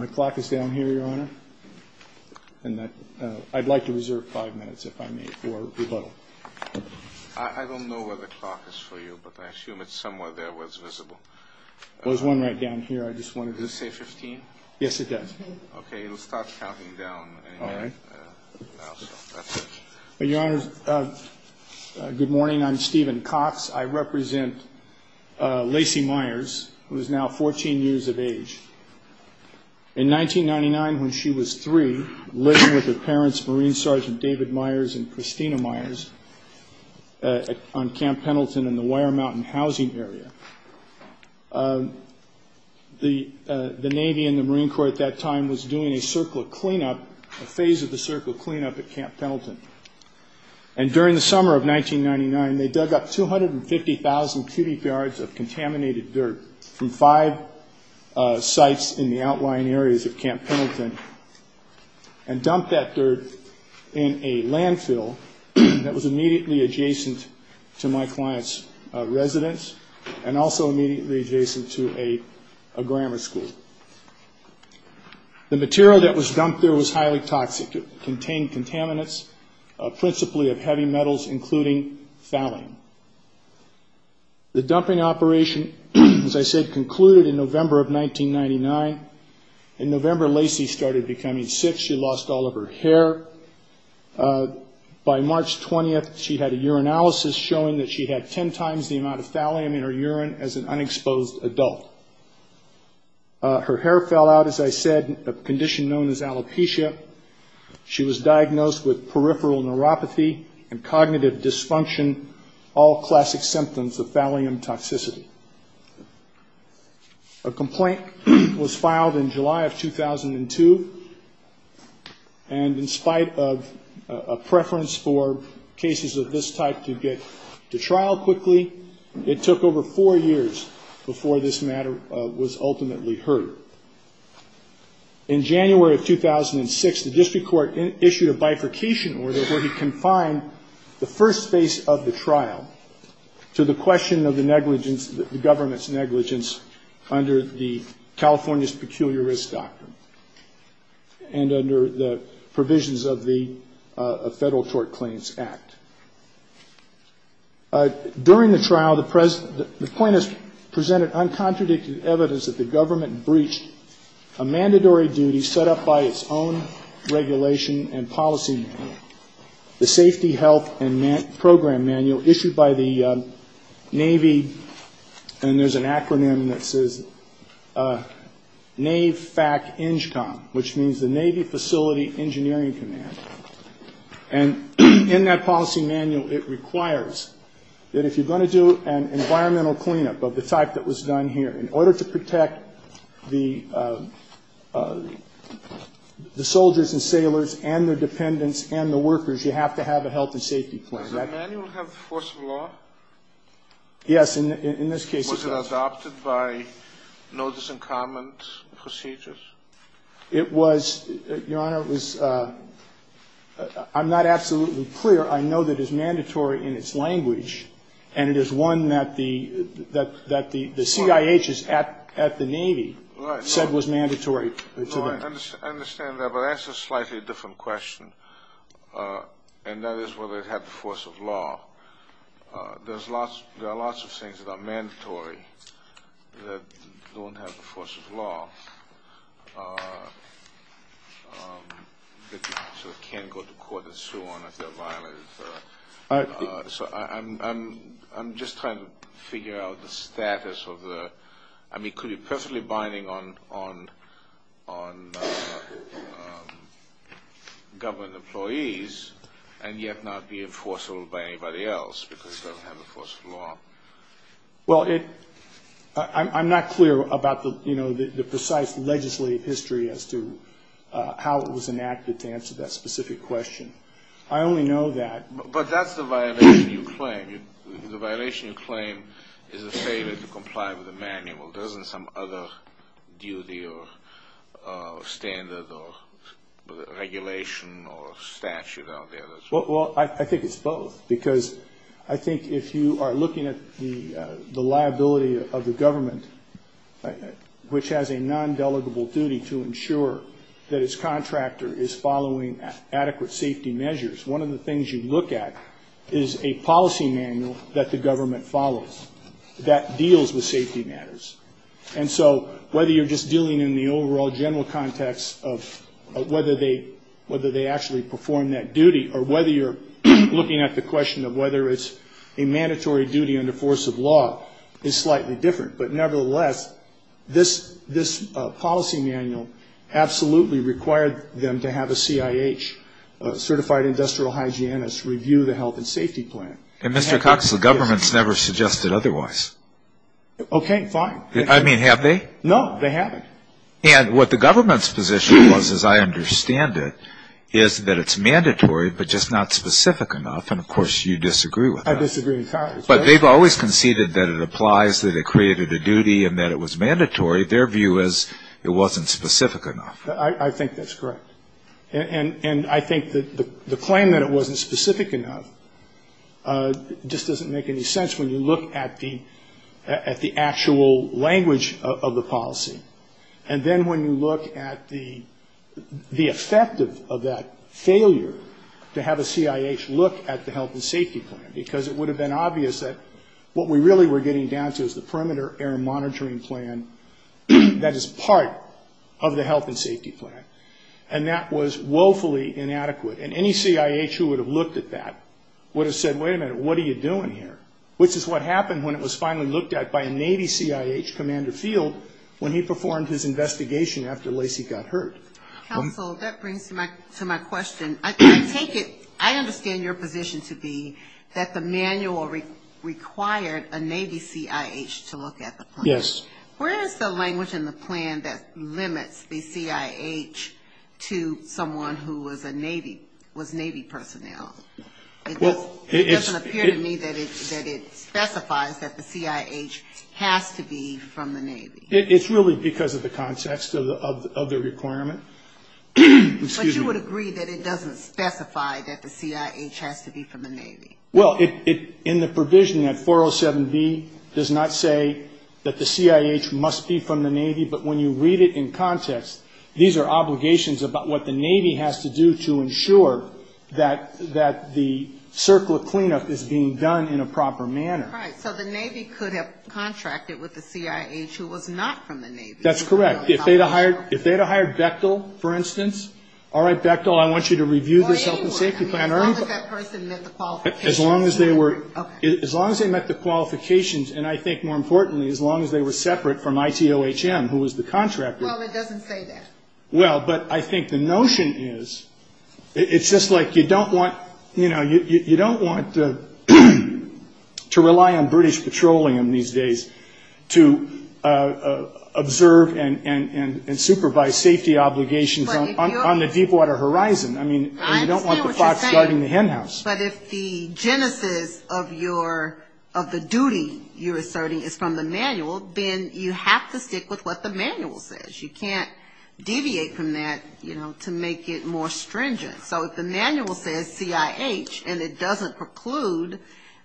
I'd like to reserve five minutes if I may for rebuttal. I don't know what the clock is for you, but I assume it's somewhere there where it's visible. There's one right down here. I just wanted to... Does it say 15? Yes, it does. Okay, it'll start counting down. All right. That's it. Your Honor, good morning. I'm Stephen Cox. I represent Lacey Myers, who is now 14 years of age. In 1999, when she was three, living with her parents, Marine Sergeant David Myers and Christina Myers, on Camp Pendleton in the Wire Mountain housing area, the Navy and the Marine Corps at that time was doing a circle of cleanup, a phase of the circle of cleanup at Camp Pendleton. And during the summer of 1999, they dug up 250,000 cubic yards of contaminated dirt from five sites in the outlying areas of Camp Pendleton and dumped that dirt in a landfill that was immediately adjacent to my client's residence and also immediately adjacent to a grammar school. The material that was dumped there was highly toxic. It contained contaminants, principally of heavy metals, including phthalene. The dumping operation, as I said, concluded in November of 1999. In November, Lacey started becoming sick. She lost all of her hair. By March 20th, she had a urinalysis showing that she had ten times the amount of phthalene in her urine as an unexposed adult. Her hair fell out, as I said, a condition known as alopecia. She was diagnosed with peripheral neuropathy and cognitive dysfunction, all classic symptoms of phthalene toxicity. A complaint was filed in July of 2002. And in spite of a preference for cases of this type to get to trial quickly, it took over four years before this matter was ultimately heard. In January of 2006, the district court issued a bifurcation order where he confined the first phase of the trial to the question of the government's negligence under the California's Peculiar Risk Doctrine and under the provisions of the Federal Tort Claims Act. During the trial, the plaintiff presented uncontradicted evidence that the government breached a mandatory duty set up by its own regulation and policy manual, the Safety, Health, and Program Manual issued by the Navy. And there's an acronym that says NAVFAC-ENGCOM, which means the Navy Facility Engineering Command. And in that policy manual, it requires that if you're going to do an environmental cleanup of the type that was done here in order to protect the soldiers and sailors and their dependents and the workers, you have to have a health and safety plan. Does that manual have force of law? Yes, in this case it does. Was it adopted by notice and comments procedures? It was, Your Honor, it was, I'm not absolutely clear. I know that it's mandatory in its language, and it is one that the CIH at the Navy said was mandatory. I understand that, but that's a slightly different question, and that is whether it had the force of law. There are lots of things that are mandatory that don't have the force of law. I'm just trying to figure out the status of the – I mean, could it be perfectly binding on government employees and yet not be enforceable by anybody else because it doesn't have the force of law? Well, I'm not clear about the precise legislative history as to how it was enacted to answer that specific question. I only know that – But that's the violation you claim. The violation you claim is the failure to comply with the manual. There isn't some other duty or standard or regulation or statute out there that's – Well, I think it's both because I think if you are looking at the liability of the government, which has a non-delegable duty to ensure that its contractor is following adequate safety measures, one of the things you look at is a policy manual that the government follows that deals with safety matters. And so whether you're just dealing in the overall general context of whether they actually perform that duty or whether you're looking at the question of whether it's a mandatory duty under force of law is slightly different. But nevertheless, this policy manual absolutely required them to have a CIH, a certified industrial hygienist, review the health and safety plan. And Mr. Cox, the government's never suggested otherwise. Okay, fine. I mean, have they? No, they haven't. And what the government's position was, as I understand it, is that it's mandatory but just not specific enough. And, of course, you disagree with that. I disagree entirely. But they've always conceded that it applies, that it created a duty, and that it was mandatory. Their view is it wasn't specific enough. I think that's correct. And I think that the claim that it wasn't specific enough just doesn't make any sense when you look at the actual language of the policy. And then when you look at the effect of that failure to have a CIH look at the health and safety plan, because it would have been obvious that what we really were getting down to is the perimeter air monitoring plan that is part of the health and safety plan. And that was woefully inadequate. And any CIH who would have looked at that would have said, wait a minute, what are you doing here? Which is what happened when it was finally looked at by a Navy CIH, Commander Field, when he performed his investigation after Lacey got hurt. Counsel, that brings to my question. I take it, I understand your position to be that the manual required a Navy CIH to look at the plan. Yes. Where is the language in the plan that limits the CIH to someone who was Navy personnel? It doesn't appear to me that it specifies that the CIH has to be from the Navy. It's really because of the context of the requirement. But you would agree that it doesn't specify that the CIH has to be from the Navy. Well, in the provision, that 407B does not say that the CIH must be from the Navy. But when you read it in context, these are obligations about what the Navy has to do to ensure that the circle of cleanup is being done in a proper manner. Right. So the Navy could have contracted with the CIH who was not from the Navy. That's correct. If they had hired Bechtel, for instance, all right, Bechtel, I want you to review this health and safety plan. As long as that person met the qualifications. As long as they met the qualifications, and I think more importantly, as long as they were separate from ITOHM, who was the contractor. Well, it doesn't say that. Well, but I think the notion is, it's just like you don't want to rely on British patrolling these days to observe and supervise safety obligations on the deep water horizon. I mean, you don't want the fox guarding the hen house. But if the genesis of the duty you're asserting is from the manual, then you have to stick with what the manual says. You can't deviate from that to make it more stringent. So if the manual says CIH and it doesn't preclude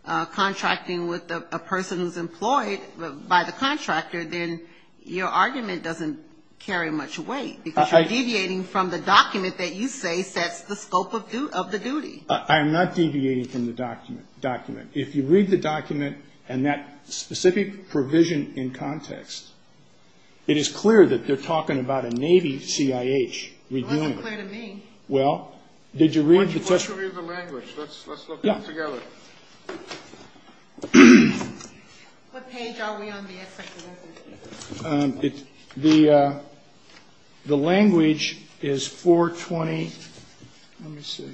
contracting with a person who's employed by the contractor, then your argument doesn't carry much weight. Because you're deviating from the document that you say sets the scope of the duty. I am not deviating from the document. If you read the document and that specific provision in context, it is clear that they're talking about a Navy CIH. It's clear to me. Well, did you read the question? Why don't you read the language? Let's look at it together. What page are we on here? The the language is 420. Let's see.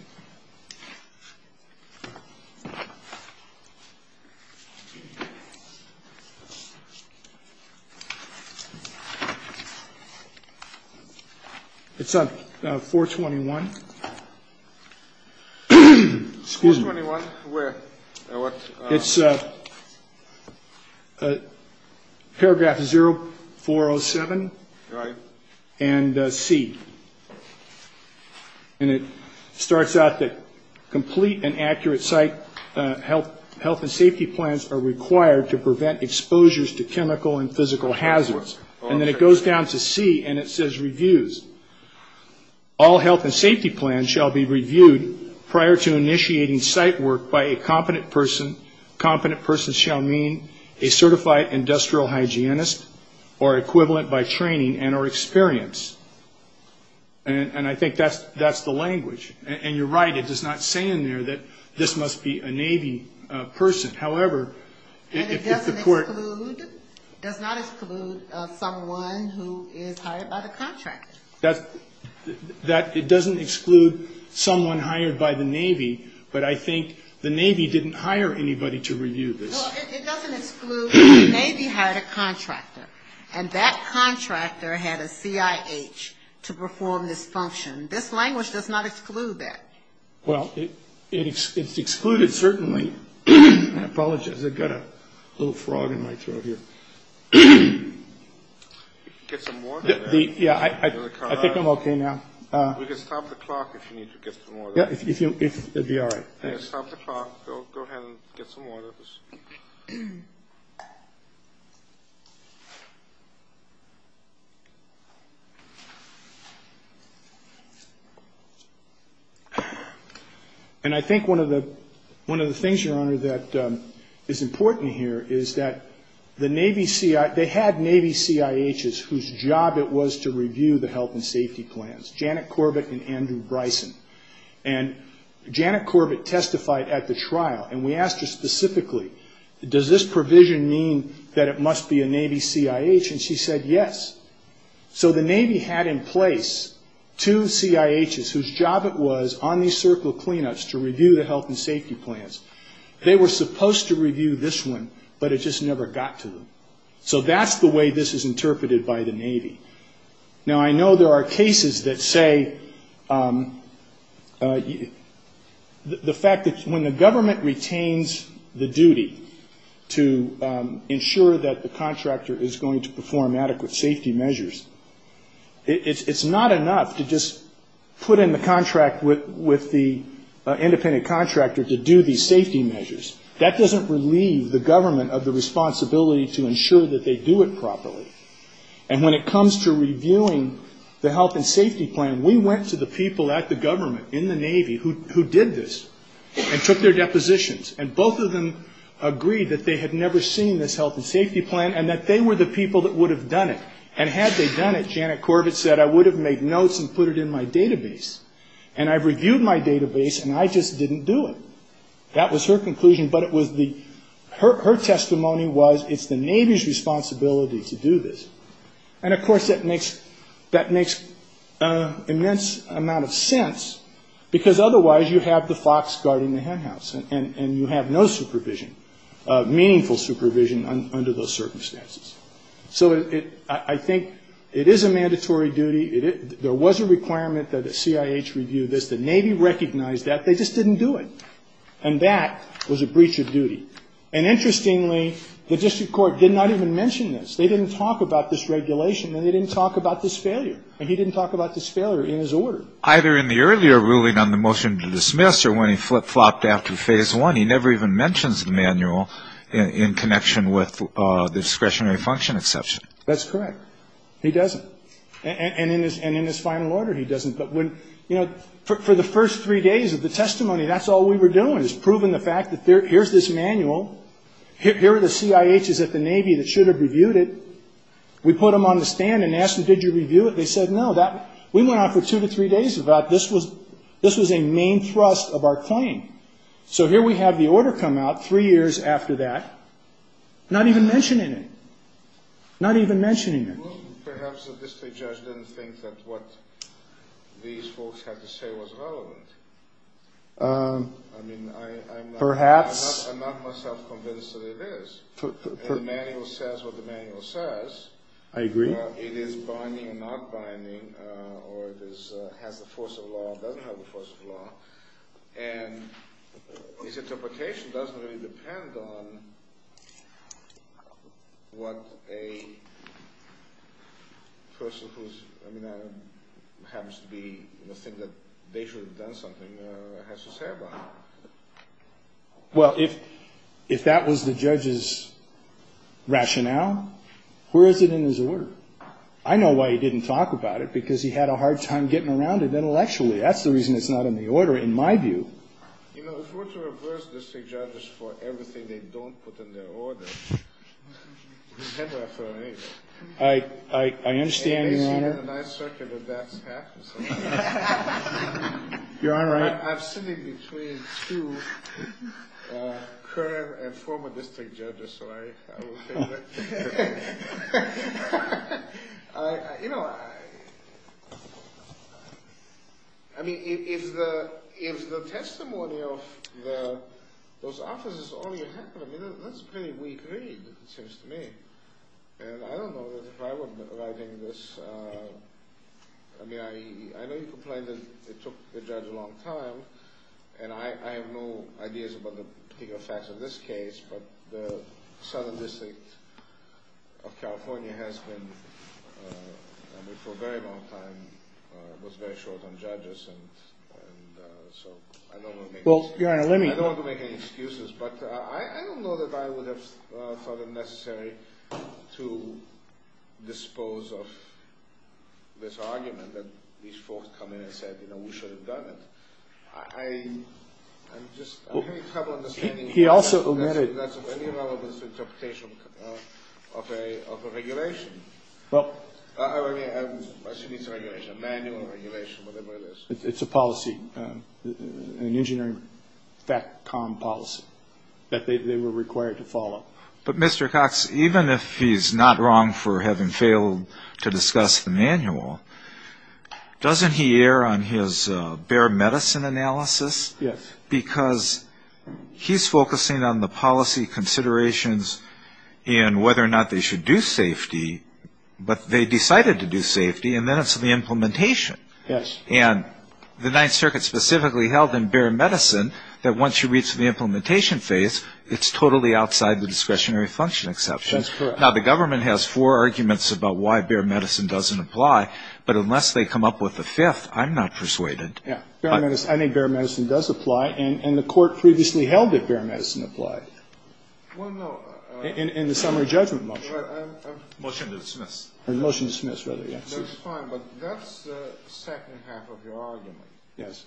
It's a 421. It's paragraph 0407 and C. And it starts out that complete and accurate site health and safety plans are required to prevent exposures to chemical and physical hazards. And then it goes down to C and it says reviews. All health and safety plans shall be reviewed prior to initiating site work by a competent person. Competent person shall mean a certified industrial hygienist or equivalent by training and or experience. And I think that's the language. And you're right. It does not say in there that this must be a Navy person. And it does not exclude someone who is hired by the contractor. It doesn't exclude someone hired by the Navy, but I think the Navy didn't hire anybody to review this. Well, it doesn't exclude the Navy had a contractor. And that contractor had a CIH to perform this function. This language does not exclude that. Well, it's excluded certainly. I apologize. I've got a little frog in my throat here. Get some water. Yeah, I think I'm okay now. You can stop the clock if you need to get some water. Yeah, if you're all right. Stop the clock. Go ahead and get some water. And I think one of the things, Your Honor, that is important here is that the Navy CIH, they had Navy CIHs whose job it was to review the health and safety plans, Janet Corbett and Andrew Bryson. And Janet Corbett testified at the trial, and we asked her specifically, does this provision mean that it must be a Navy CIH? And she said yes. So the Navy had in place two CIHs whose job it was on these circle cleanups to review the health and safety plans. They were supposed to review this one, but it just never got to them. Now, I know there are cases that say the fact that when the government retains the duty to ensure that the contractor is going to perform adequate safety measures, it's not enough to just put in the contract with the independent contractor to do these safety measures. That doesn't relieve the government of the responsibility to ensure that they do it properly. And when it comes to reviewing the health and safety plan, we went to the people at the government, in the Navy, who did this and took their depositions. And both of them agreed that they had never seen this health and safety plan and that they were the people that would have done it. And had they done it, Janet Corbett said, I would have made notes and put it in my database. And I reviewed my database, and I just didn't do it. That was her conclusion, but her testimony was it's the Navy's responsibility to do this. And, of course, that makes an immense amount of sense, because otherwise you have the fox guarding the hen house, and you have no supervision, meaningful supervision, under those circumstances. So I think it is a mandatory duty. There was a requirement that the CIH review this. The Navy recognized that. They just didn't do it. And that was a breach of duty. And, interestingly, the district court did not even mention this. They didn't talk about this regulation, and they didn't talk about this failure. And he didn't talk about this failure in his order. Either in the earlier ruling on the motion to dismiss or when he flopped after phase one, he never even mentions the manual in connection with the discretionary function exception. That's correct. He doesn't. And in his final order, he doesn't. But for the first three days of the testimony, that's all we were doing, was proving the fact that here's this manual, here are the CIHs at the Navy that should have reviewed it. We put them on the stand and asked them, did you review it? They said no. We went on for two to three days about this. This was a main thrust of our claim. So here we have the order come out three years after that, not even mentioning it. Not even mentioning it. Perhaps the district judge didn't think that what these folks had to say was relevant. Perhaps. I'm not myself convinced that it is. The manual says what the manual says. I agree. It is binding and not binding, or it has the force of law and doesn't have the force of law. And his interpretation doesn't really depend on what a person who happens to be the thing that they should have done something has to say about it. Well, if that was the judge's rationale, where is it in his order? I know why he didn't talk about it, because he had a hard time getting around it intellectually. That's the reason it's not in the order, in my view. You know, if we're to reverse district judges for everything they don't put in their order, it's never a fair case. I understand, Your Honor. And I certainly would not pass it. You're all right. I'm sitting between two current and former district judges, so I will take that. You know, I mean, if the testimony of those officers is all you have, that's a pretty weak read, it seems to me. And I don't know if I wouldn't agree with this. I mean, I know you complain that it took the judge a long time, and I have no ideas about the facts of this case, but the Son of District of California has been, for a very long time, was very short on judges. I don't want to make any excuses, but I don't know that I would have thought it necessary to dispose of this argument that these folks come in and said, you know, we should have done it. I'm just having trouble understanding if that's of any relevance to interpretation of a regulation. I assume it's a manual regulation, whatever it is. It's a policy, an engineering FACCOM policy that they were required to follow. But, Mr. Cox, even if he's not wrong for having failed to discuss the manual, doesn't he err on his bare medicine analysis? Yes. Because he's focusing on the policy considerations and whether or not they should do safety, but they decided to do safety, and then it's the implementation. Yes. And the Ninth Circuit specifically held in bare medicine that once you reach the implementation phase, it's totally outside the discretionary function exception. That's correct. Now, the government has four arguments about why bare medicine doesn't apply, but unless they come up with a fifth, I'm not persuaded. Yeah. I think bare medicine does apply, and the court previously held that bare medicine applied. Well, no. In the summary judgment motion. Motion to dismiss. Motion to dismiss, rather, yeah. That's fine, but that's the second half of your argument. Yes.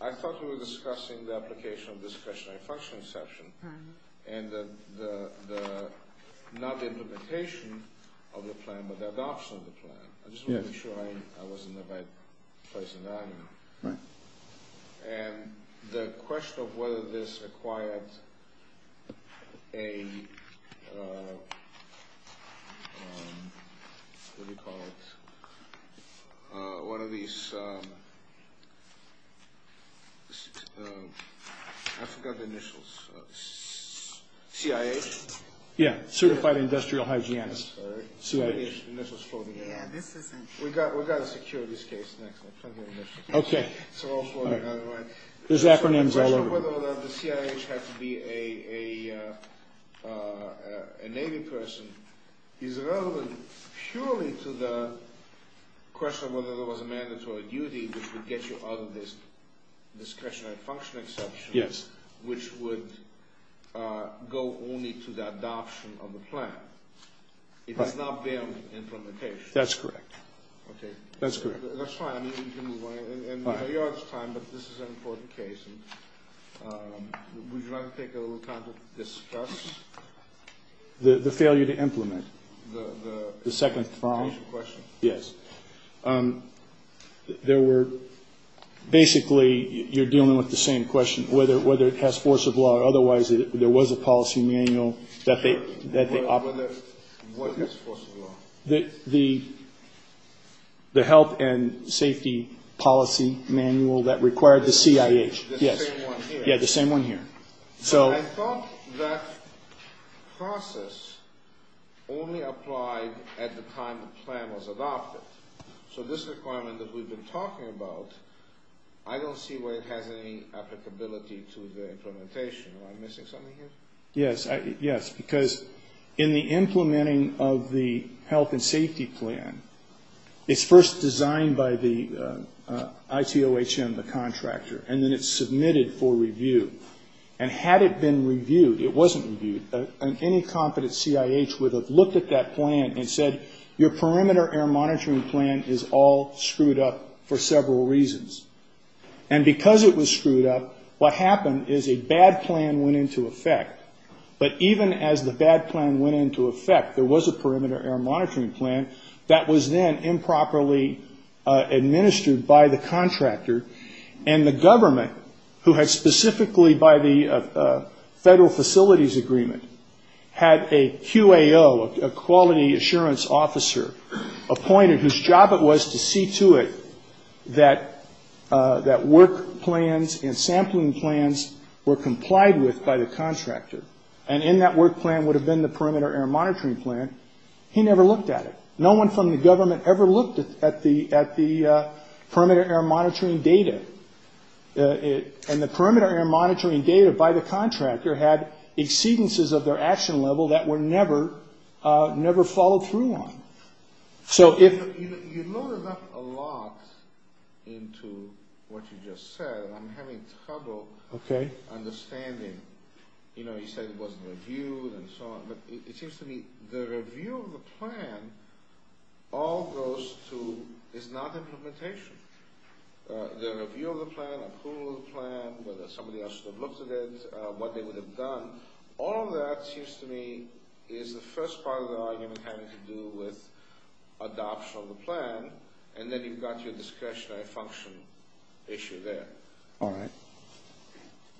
I thought you were discussing the application of discretionary function exception and the not implementation of the plan, but the adoption of the plan. I just wanted to make sure I was in the right place in the argument. Right. And the question of whether this acquired a, what do we call it, one of these, I forgot the initials, CIH? Yeah, Certified Industrial Hygiene. CIH. The initials floating around. We've got a securities case next. Okay. It's all floating around, right? His acronym's all over. The question of whether the CIH had to be a Navy person is relevant, surely, to the question of whether there was a mandatory duty which would get you out of this discretionary function exception. Yes. Which would go only to the adoption of the plan. It does not ban implementation. That's correct. Okay. That's correct. That's fine. We can move on. We are out of time, but this is an important case. Would you like to take a little time to discuss? The failure to implement. The second question. Yes. There were, basically, you're dealing with the same question, whether it has force of law or otherwise. There was a policy manual that they offered. What has force of law? The health and safety policy manual that required the CIH. The same one here. Yes. The same one here. I thought that process only applied at the time the plan was adopted. This requirement that we've been talking about, I don't see where it has any applicability to the implementation. Am I missing something here? Yes. Yes. Because in the implementing of the health and safety plan, it's first designed by the ICOHM, the contractor, and then it's submitted for review. Had it been reviewed, it wasn't reviewed, and any competent CIH would have looked at that plan and said, your perimeter air monitoring plan is all screwed up for several reasons. And because it was screwed up, what happened is a bad plan went into effect. But even as the bad plan went into effect, there was a perimeter air monitoring plan that was then improperly administered by the contractor. And the government, who had specifically by the federal facilities agreement, had a QAO, a quality assurance officer, appointed whose job it was to see to it that work plans and sampling plans were complied with by the contractor. And in that work plan would have been the perimeter air monitoring plan. He never looked at it. No one from the government ever looked at the perimeter air monitoring data. And the perimeter air monitoring data by the contractor had exceedances of their action level that were never followed through on. So if... You loaded up a lot into what you just said. I'm having trouble understanding. You know, you said it wasn't reviewed and so on. But it seems to me the review of the plan all goes to is not implementation. The review of the plan, approval of the plan, whether somebody else would have looked at it, what they would have done. All of that seems to me is the first part of the argument having to do with adoption of the plan. And then you've got your discretionary function issue there. All right.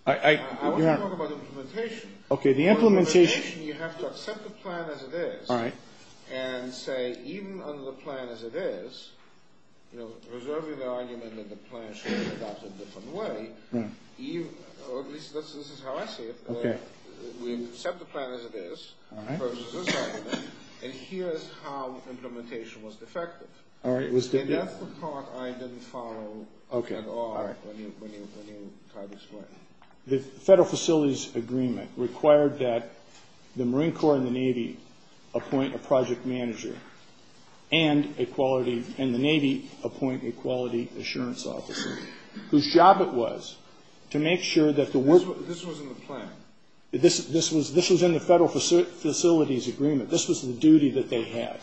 I want to talk about implementation. Okay. You have to accept the plan as it is. All right. And say even under the plan as it is, you know, preserving the argument that the plan should be adopted a different way. Or at least this is how I see it. Okay. We accept the plan as it is versus this argument. And here's how implementation was defective. All right. And that's the part I didn't follow at all when you tried this one. The Federal Facilities Agreement required that the Marine Corps and the Navy appoint a project manager and a quality and the Navy appoint a quality assurance officer whose job it was to make sure that the work This was in the plan. This was in the Federal Facilities Agreement. This was the duty that they had.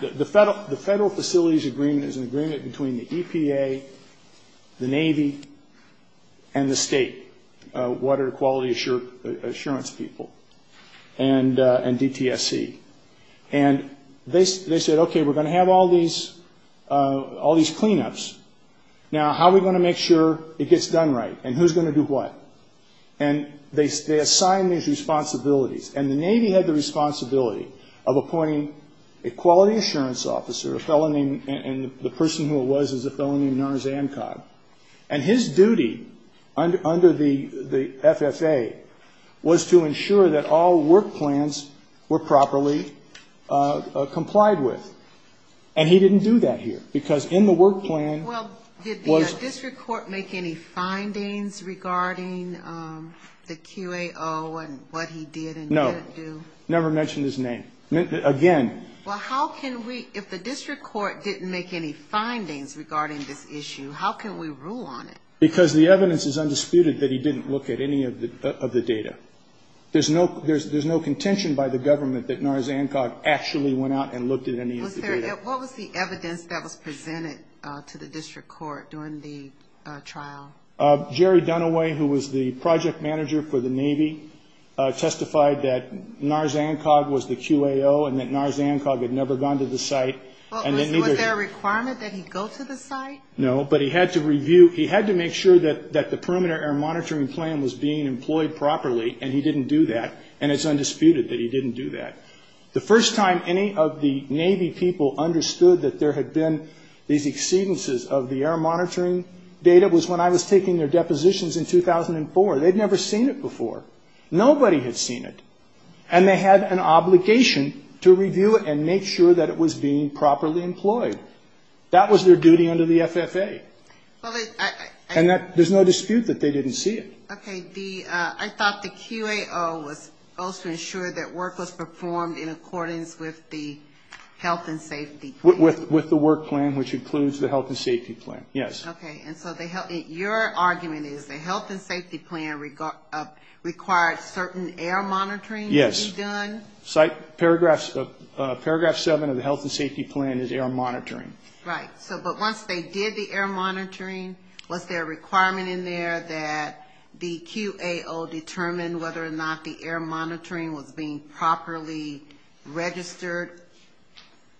The Federal Facilities Agreement is an agreement between the EPA, the Navy, and the state water quality assurance people and DTSC. And they said, okay, we're going to have all these cleanups. Now, how are we going to make sure it gets done right? And who's going to do what? And they assigned these responsibilities. And the Navy had the responsibility of appointing a quality assurance officer, a fellow named, and the person who it was was a fellow named Nur Zankar. And his duty under the FFA was to ensure that all work plans were properly complied with. And he didn't do that here because in the work plan was Did the district court make any findings regarding the QAO and what he did and didn't do? No. Never mentioned his name. Again. Well, how can we, if the district court didn't make any findings regarding this issue, how can we rule on it? Because the evidence is undisputed that he didn't look at any of the data. There's no contention by the government that Nur Zankar actually went out and looked at any of the data. What was the evidence that was presented to the district court during the trial? Jerry Dunaway, who was the project manager for the Navy, testified that Nur Zankar was the QAO and that Nur Zankar had never gone to the site. Was there a requirement that he go to the site? No, but he had to review, he had to make sure that the perimeter monitoring plan was being employed properly, and he didn't do that. And it's undisputed that he didn't do that. The first time any of the Navy people understood that there had been these exceedances of the air monitoring data was when I was taking their depositions in 2004. They'd never seen it before. Nobody had seen it. And they had an obligation to review it and make sure that it was being properly employed. That was their duty under the FFA. And there's no dispute that they didn't see it. Okay, I thought the QAO was also ensured that work was performed in accordance with the health and safety plan. With the work plan, which includes the health and safety plan, yes. Okay, and so your argument is the health and safety plan required certain air monitoring to be done? Yes. Paragraph 7 of the health and safety plan is air monitoring. Right, but once they did the air monitoring, was there a requirement in there that the QAO determine whether or not the air monitoring was being properly registered?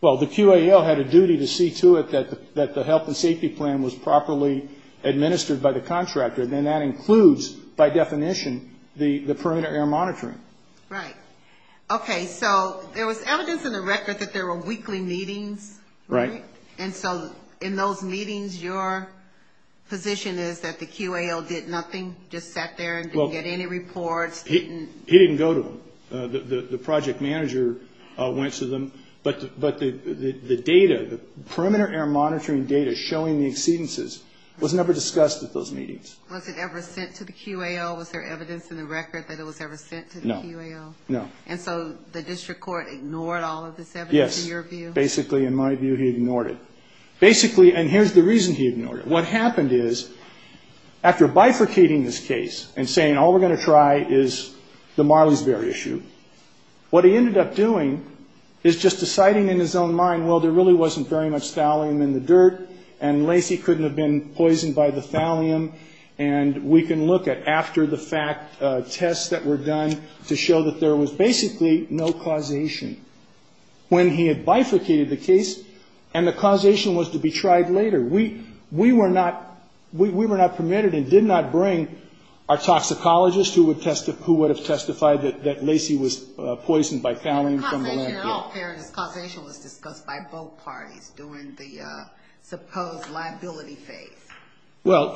Well, the QAO had a duty to see to it that the health and safety plan was properly administered by the contractor. And that includes, by definition, the permanent air monitoring. Right. Okay, so there was evidence in the record that there were weekly meetings. Right. And so in those meetings, your position is that the QAO did nothing, just sat there and didn't get any reports? He didn't go to them. The project manager went to them. But the data, the permanent air monitoring data showing the exceedances was never discussed at those meetings. Was it ever sent to the QAO? Was there evidence in the record that it was ever sent to the QAO? No, no. And so the district court ignored all of this evidence in your view? Basically, in my view, he ignored it. Basically, and here's the reason he ignored it. What happened is, after bifurcating this case and saying all we're going to try is the Marleyberry issue, what he ended up doing is just deciding in his own mind, well, there really wasn't very much thallium in the dirt, and Lacey couldn't have been poisoned by the thallium. And we can look at after the fact tests that were done to show that there was basically no causation. When he had bifurcated the case and the causation was to be tried later, we were not permitted and did not bring our toxicologist who would have testified that Lacey was poisoned by thallium. The causation was discussed by both parties during the supposed liability phase. Well,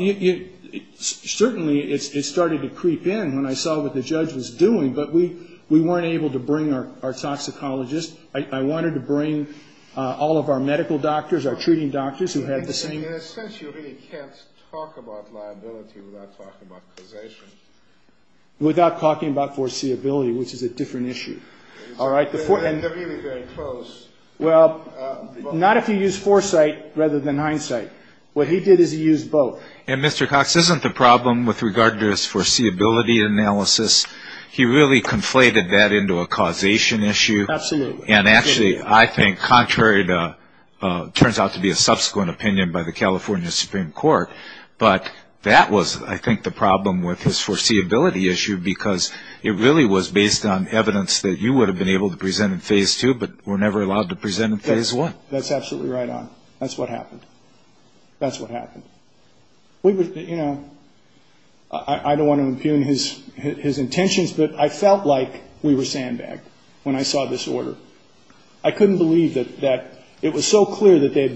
certainly it started to creep in when I saw what the judge was doing, but we weren't able to bring our toxicologist. I wanted to bring all of our medical doctors, our treating doctors who had the same. And essentially he can't talk about liability without talking about causation. Without talking about foreseeability, which is a different issue. All right. They're really very close. Well, not if you use foresight rather than hindsight. What he did is he used both. And Mr. Cox isn't the problem with regard to his foreseeability analysis. He really conflated that into a causation issue. Absolutely. And actually I think contrary to what turns out to be a subsequent opinion by the California Supreme Court. But that was, I think, the problem with his foreseeability issue because it really was based on evidence that you would have been able to present in phase two but were never allowed to present in phase one. That's absolutely right. That's what happened. That's what happened. You know, I don't want to infume his intentions, but I felt like we were sandbagged when I saw this order. I couldn't believe that it was so clear that they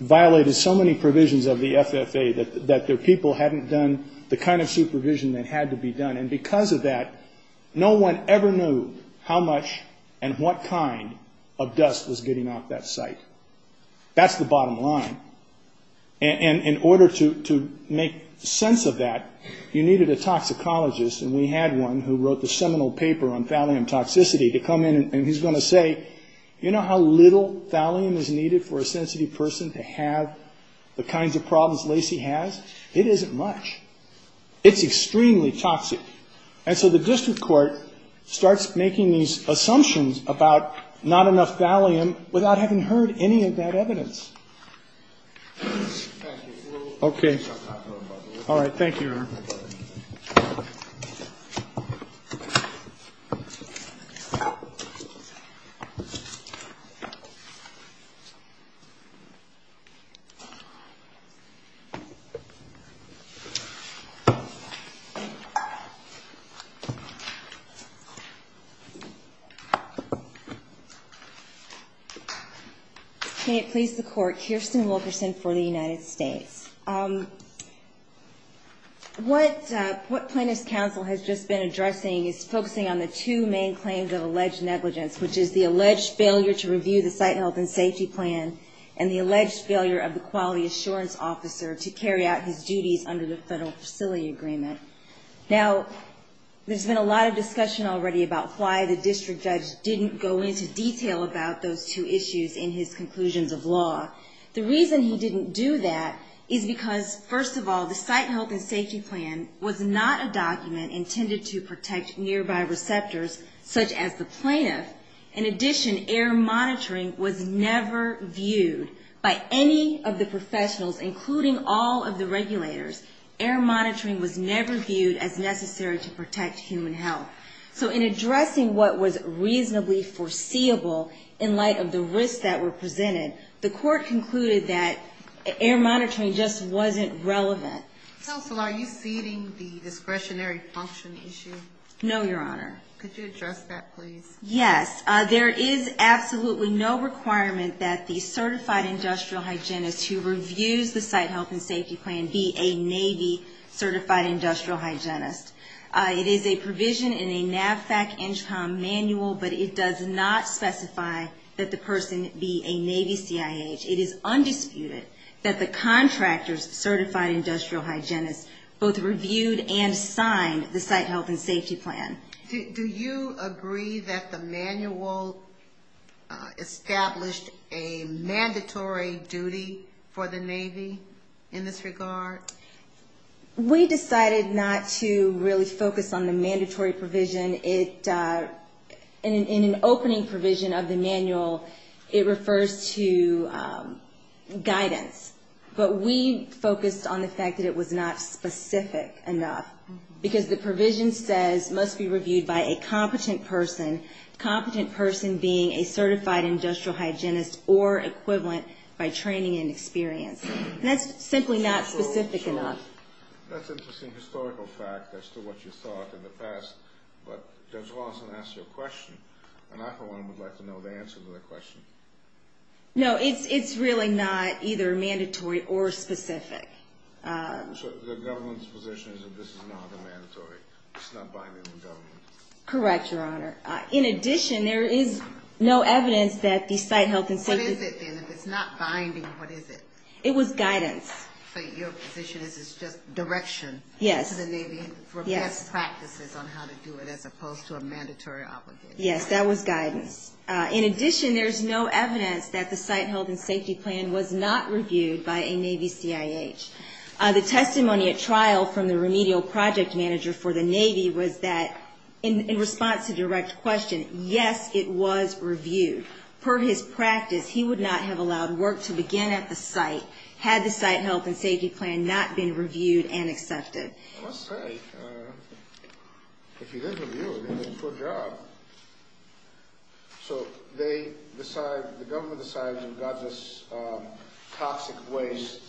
violated so many provisions of the FFA that their people hadn't done the kind of supervision that had to be done. And because of that, no one ever knew how much and what kind of dust was getting off that site. That's the bottom line. And in order to make sense of that, you needed a toxicologist. And we had one who wrote the seminal paper on thallium toxicity to come in and he's going to say, you know how little thallium is needed for a sensitive person to have the kinds of problems Lacey has? It isn't much. It's extremely toxic. And so the district court starts making these assumptions about not enough thallium without having heard any of that evidence. Okay. All right. Thank you. Thank you. Can it please the court, Kirsten Wilkerson for the United States. What plaintiff's counsel has just been addressing is focusing on the two main claims of alleged negligence, which is the alleged failure to review the site health and safety plan and the alleged failure of the quality assurance officer to carry out his duties under the federal facility agreement. There's been a lot of discussion already about why the district judge didn't go into detail about those two issues in his conclusions of law. The reason he didn't do that is because, first of all, the site health and safety plan was not a document intended to protect nearby receptors, such as the plaintiff. In addition, air monitoring was never viewed by any of the professionals, including all of the regulators. Air monitoring was never viewed as necessary to protect human health. So in addressing what was reasonably foreseeable in light of the risks that were presented, the court concluded that air monitoring just wasn't relevant. Counsel, are you feeding the discretionary function issue? No, Your Honor. Could you address that, please? Yes. There is absolutely no requirement that the certified industrial hygienist who reviews the site health and safety plan be a Navy certified industrial hygienist. It is a provision in a NAVFAC-NCHCOM manual, but it does not specify that the person be a Navy CIH. It is undisputed that the contractor's certified industrial hygienist both reviewed and signed the site health and safety plan. Do you agree that the manual established a mandatory duty for the Navy in this regard? We decided not to really focus on the mandatory provision. In an opening provision of the manual, it refers to guidance, but we focused on the fact that it was not specific enough, because the provision says must be reviewed by a competent person, competent person being a certified industrial hygienist or equivalent by training and experience. That's simply not specific enough. That's an interesting historical fact as to what you thought in the past, but Judge Lawson asked you a question, and I, for one, would like to know the answer to that question. No, it's really not either mandatory or specific. So the government's position is that this is not mandatory. It's not binding on the government. Correct, Your Honor. In addition, there is no evidence that the site health and safety… What is it then? If it's not binding, what is it? It was guidance. So your position is it's just direction to the Navy for best practices on how to do it as opposed to a mandatory obligation. Yes, that was guidance. In addition, there is no evidence that the site health and safety plan was not reviewed by a Navy CIH. The testimony at trial from the remedial project manager for the Navy was that in response to direct question, yes, it was reviewed. Per his practice, he would not have allowed work to begin at the site had the site health and safety plan not been reviewed and accepted. That's right. If he didn't review it, he'd get a poor job. So they decide, the government decides, we've got this toxic waste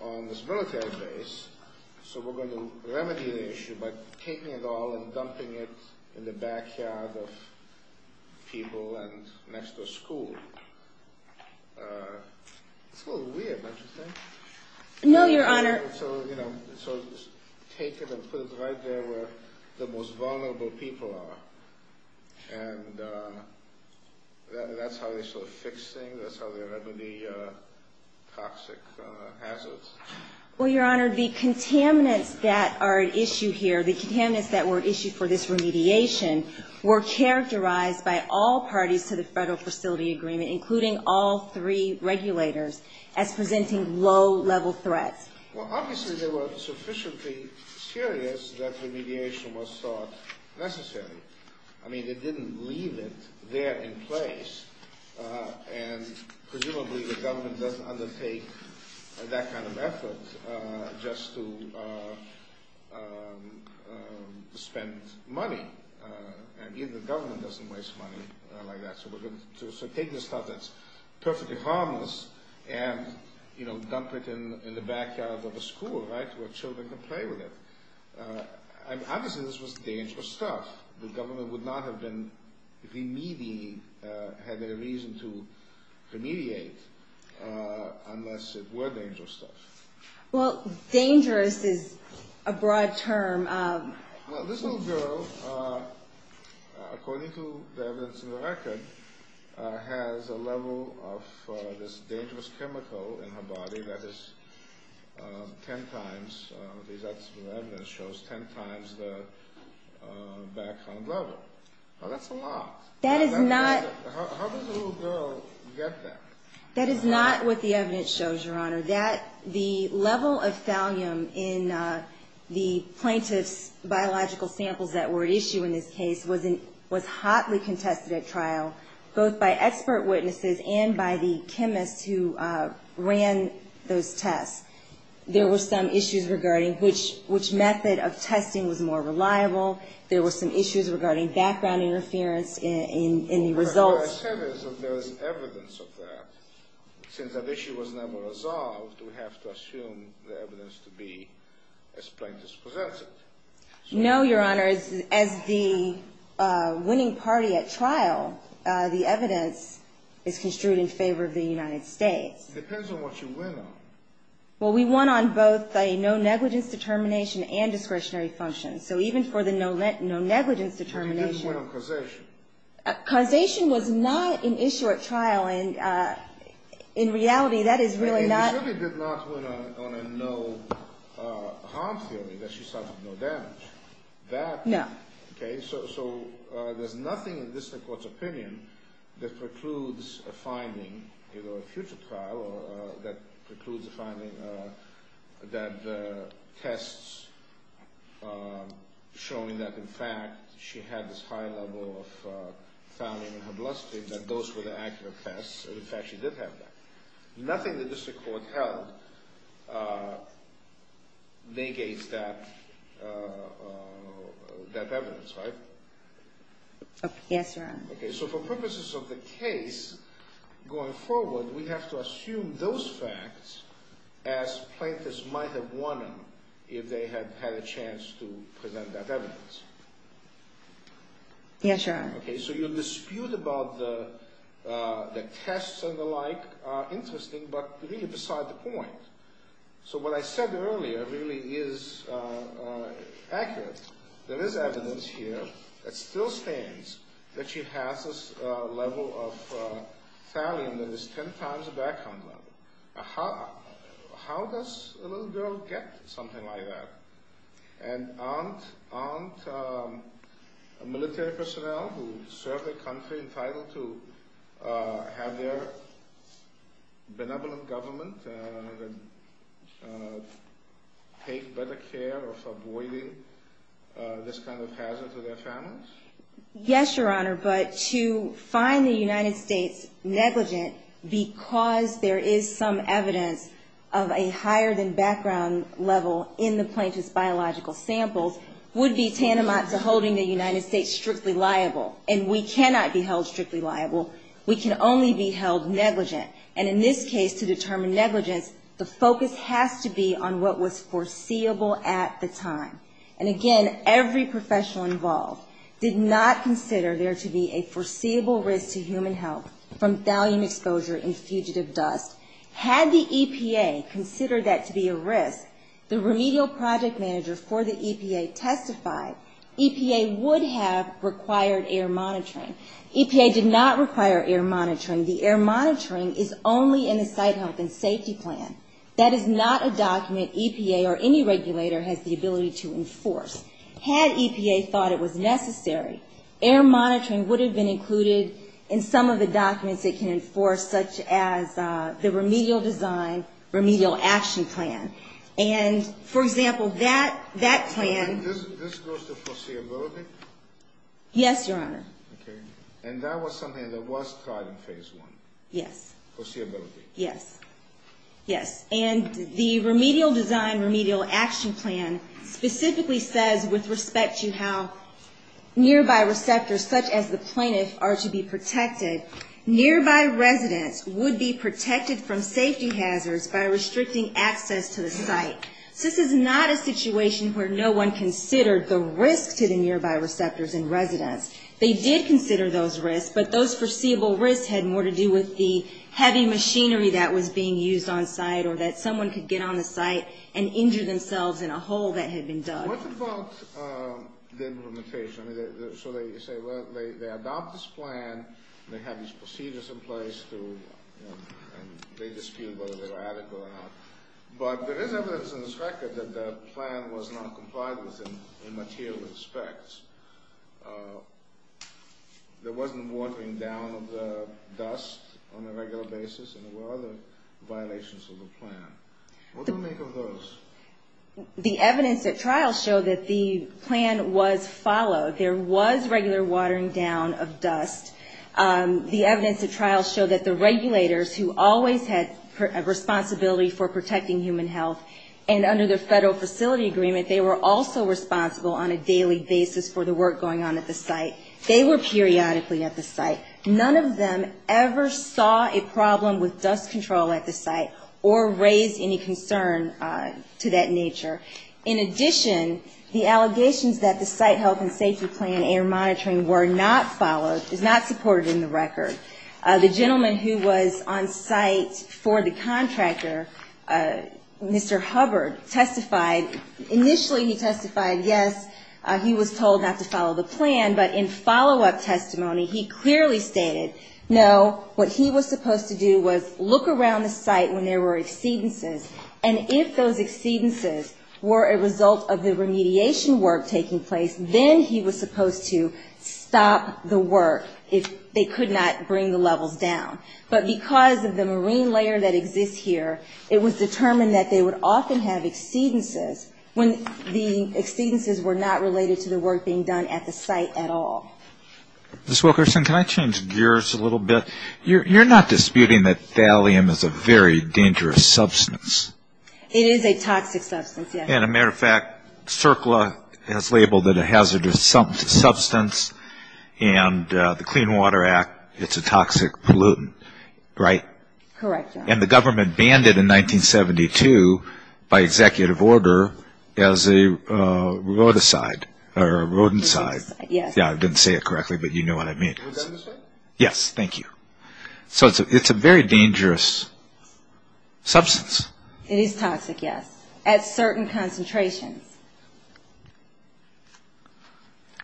on this military base, so we're going to remedy the issue by taking it all and dumping it in the backyard of people and next to a school. It's a little weird, don't you think? No, Your Honor. So take it and put it right there where the most vulnerable people are. And that's how we sort of fix things. That's how we remedy toxic hazards. Well, Your Honor, the contaminants that are at issue here, the contaminants that were issued for this remediation, were characterized by all parties to the federal facility agreement, including all three regulators, as presenting low-level threats. Well, obviously they were sufficiently serious that the remediation was thought necessary. I mean, they didn't leave it there in place. And presumably the government doesn't undertake that kind of effort just to spend money. And even the government doesn't waste money like that. So take this stuff that's perfectly harmless and dump it in the backyard of a school, right, where children can play with it. Obviously this was dangerous stuff. The government would not have been remedying, had there been a reason to remediate, unless it were dangerous stuff. Well, dangerous is a broad term. Now, this little girl, according to the evidence in the record, has a level of this dangerous chemical in her body that is 10 times, these evidence shows, 10 times the Vaxone level. Now, that's a lot. How does a little girl get that? That is not what the evidence shows, Your Honor. The level of thallium in the plaintiff's biological samples that were at issue in this case was hotly contested at trial, both by expert witnesses and by the chemist who ran those tests. There were some issues regarding which method of testing was more reliable. There were some issues regarding background interference in the results. But there is evidence of that. Since that issue was never resolved, we have to assume the evidence to be as plaintiff's presented. No, Your Honor. As the winning party at trial, the evidence is construed in favor of the United States. It depends on what you win on. Well, we won on both a no-negligence determination and discretionary function. So even for the no-negligence determination… But you didn't win on causation. Causation was not an issue at trial. In reality, that is really not… You really did not win on a no-harm feeling, that she suffered no damage. No. Okay, so there's nothing in the District Court's opinion that precludes a finding, either a future trial or that precludes a finding that tests showing that, in fact, she had this high level of thymine in her bloodstream, that those were the accurate tests, and, in fact, she did have that. Nothing in the District Court held negates that evidence, right? Yes, Your Honor. Okay, so for purposes of the case, going forward, we have to assume those facts as plaintiffs might have won on if they had had a chance to present that evidence. Yes, Your Honor. Okay, so your dispute about the tests and the like are interesting, but really beside the point. So what I said earlier really is accurate. There is evidence here that still stands that she has this level of thymine that is ten times the background level. How does a little girl get something like that? And aren't military personnel who serve their country entitled to have their benevolent government take better care of avoiding this kind of hazard to their families? Yes, Your Honor, but to find the United States negligent because there is some evidence of a higher than background level in the plaintiff's biological samples would be tantamount to holding the United States strictly liable. And we cannot be held strictly liable. We can only be held negligent. And in this case, to determine negligence, the focus has to be on what was foreseeable at the time. And again, every professional involved did not consider there to be a foreseeable risk to human health from thallium exposure and fugitive dust. Had the EPA considered that to be a risk, the remedial project manager for the EPA testified, EPA would have required air monitoring. EPA did not require air monitoring. The air monitoring is only in a site health and safety plan. That is not a document EPA or any regulator has the ability to enforce. Had EPA thought it was necessary, air monitoring would have been included in some of the documents it can enforce, such as the remedial design, remedial action plan. And, for example, that plan... This goes to foreseeability? Yes, Your Honor. Okay. And that was something that was taught in phase one. Yes. Foreseeability. Yes. And the remedial design, remedial action plan specifically says, with respect to how nearby receptors, such as the plaintiff, are to be protected, nearby residents would be protected from safety hazards by restricting access to the site. This is not a situation where no one considered the risk to the nearby receptors and residents. They did consider those risks, but those foreseeable risks had more to do with the heavy machinery that was being used on site or that someone could get on the site and injure themselves in a hole that had been dug. What about the implementation? So they say, well, they adopt this plan, they have these procedures in place, and they dispute whether they're adequate or not. But there is evidence in this record that the plan was non-compliant in material respects. There wasn't watering down of the dust on a regular basis, and there were other violations of the plan. What do you make of those? The evidence at trial showed that the plan was followed. There was regular watering down of dust. The evidence at trial showed that the regulators, who always had a responsibility for protecting human health, and under the Federal Facility Agreement, they were also responsible on a daily basis for the work going on at the site. They were periodically at the site. None of them ever saw a problem with dust control at the site or raised any concern to that nature. In addition, the allegations that the site health and safety plan and air monitoring were not followed, did not support it in the record. The gentleman who was on site for the contractor, Mr. Hubbard, testified. Initially, he testified, yes, he was told not to follow the plan. But in follow-up testimony, he clearly stated, no, what he was supposed to do was look around the site when there were exceedances. And if those exceedances were a result of the remediation work taking place, then he was supposed to stop the work if they could not bring the levels down. But because of the marine layer that exists here, it was determined that they would often have exceedances when the exceedances were not related to the work being done at the site at all. Ms. Wilkerson, can I change gears a little bit? You're not disputing that thallium is a very dangerous substance. It is a toxic substance, yes. And a matter of fact, CERCLA has labeled it a hazardous substance, and the Clean Water Act, it's a toxic pollutant, right? Correct. And the government banned it in 1972 by executive order as a rodicide or a rodenticide. Yes. Yeah, I didn't say it correctly, but you know what I mean. Rodenticide? Yes, thank you. So it's a very dangerous substance. It is toxic, yes, at certain concentrations.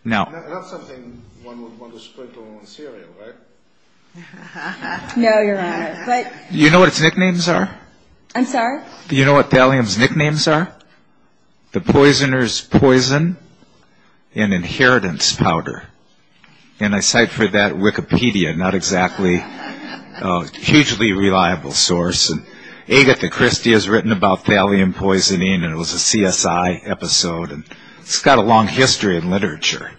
Now— That's something one would want to sprinkle on cereal, right? No, Your Honor, but— Do you know what its nicknames are? I'm sorry? Do you know what thallium's nicknames are? The poisoner's poison and inheritance powder. And I cite for that Wikipedia, not exactly a hugely reliable source. And Agatha Christie has written about thallium poisoning, and it was a CSI episode. It's got a long history in literature.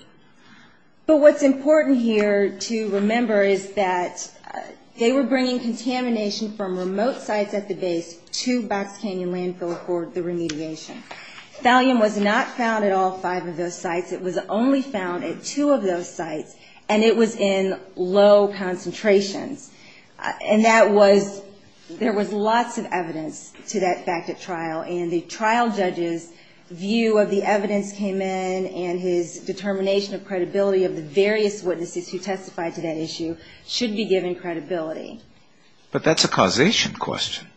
But what's important here to remember is that they were bringing contamination from remote sites at the base to Black Canyon Landfill for the remediation. Thallium was not found at all five of those sites. In fact, it was only found at two of those sites, and it was in low concentration. And that was—there was lots of evidence to that fact at trial. And the trial judge's view of the evidence came in, and his determination of credibility of the various witnesses who testified to that issue should be given credibility. But that's a causation question.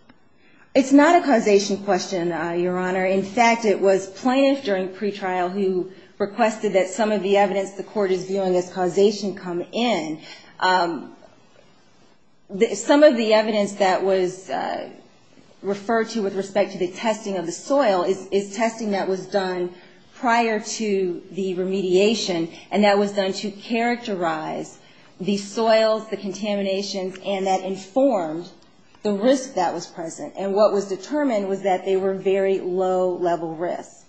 It's not a causation question, Your Honor. In fact, it was plaintiffs during pretrial who requested that some of the evidence the court is viewing as causation come in. Some of the evidence that was referred to with respect to the testing of the soil is testing that was done prior to the remediation, and that was done to characterize the soils, the contaminations, and that informed the risk that was present. And what was determined was that they were very low-level risks.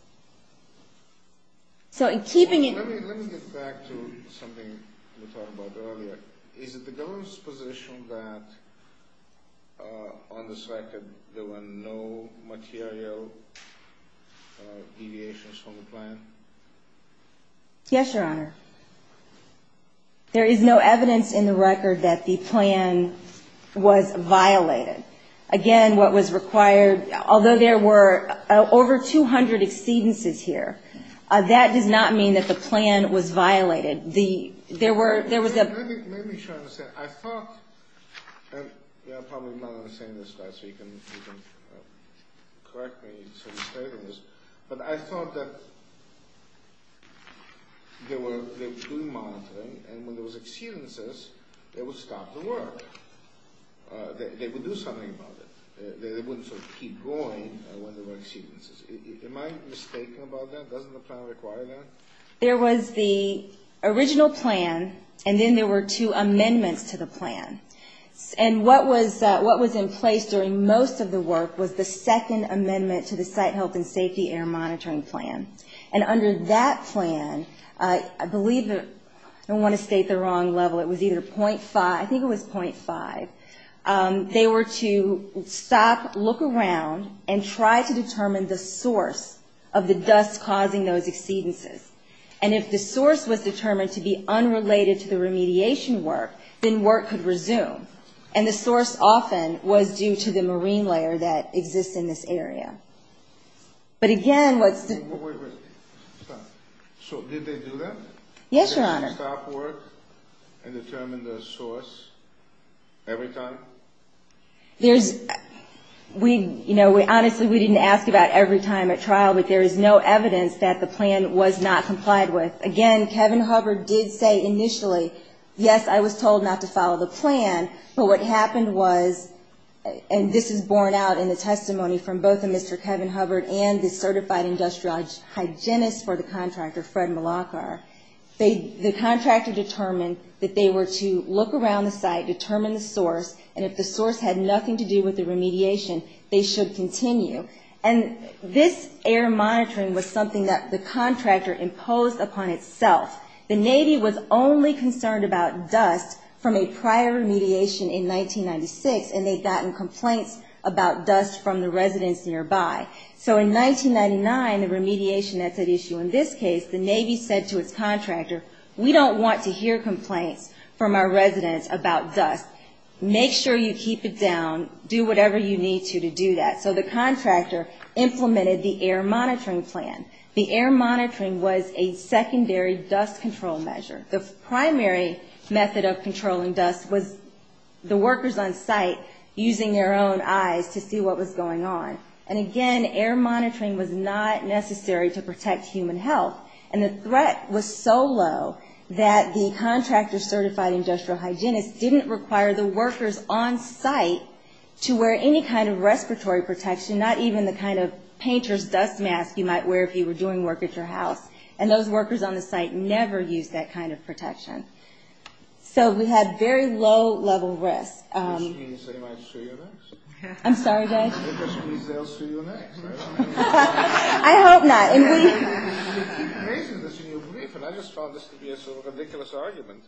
So in keeping— Let me get back to something you talked about earlier. Is it the government's position that on the site there were no material deviations from the plan? Yes, Your Honor. There is no evidence in the record that the plan was violated. Again, what was required—although there were over 200 exceedances here, that did not mean that the plan was violated. Let me try to understand. I thought—and you probably know what I'm saying in this class, so you can correct me if I'm misstating this— but I thought that they were doing monitoring, and when there were exceedances, they would stop the work. They would do something about it. They wouldn't keep going when there were exceedances. Am I mistaken about that? Doesn't the plan require that? There was the original plan, and then there were two amendments to the plan. And what was in place during most of the work was the second amendment to the Site Health and Safety Air Monitoring Plan. And under that plan, I believe—I don't want to state the wrong level. It was either .5—I think it was .5. They were to stop, look around, and try to determine the source of the dust causing those exceedances. And if the source was determined to be unrelated to the remediation work, then work could resume. And the source often was due to the marine layer that exists in this area. But again, what— Wait, wait, wait. So did they do that? Yes, Your Honor. Did they stop work and determine the source every time? We—you know, honestly, we didn't ask about every time at trial, but there is no evidence that the plan was not complied with. Again, Kevin Hubbard did say initially, yes, I was told not to follow the plan. But what happened was—and this is borne out in the testimony from both Mr. Kevin Hubbard and the certified industrial hygienist for the contractor, Fred Malachar. The contractor determined that they were to look around the site, determine the source, and if the source had nothing to do with the remediation, they should continue. And this air monitoring was something that the contractor imposed upon itself. The Navy was only concerned about dust from a prior remediation in 1996, and they'd gotten complaints about dust from the residents nearby. So in 1999, the remediation had that issue. In this case, the Navy said to its contractor, we don't want to hear complaints from our residents about dust. Make sure you keep it down. Do whatever you need to to do that. So the contractor implemented the air monitoring plan. The air monitoring was a secondary dust control measure. The primary method of controlling dust was the workers on site using their own eyes to see what was going on. And again, air monitoring was not necessary to protect human health. And the threat was so low that the contractor certified industrial hygienist didn't require the workers on site to wear any kind of respiratory protection, not even the kind of painter's dust mask you might wear if you were doing work at your house. And those workers on the site never used that kind of protection. So we had very low level risk. I'm sorry, guys. I hope not. I just found this to be a sort of ridiculous argument.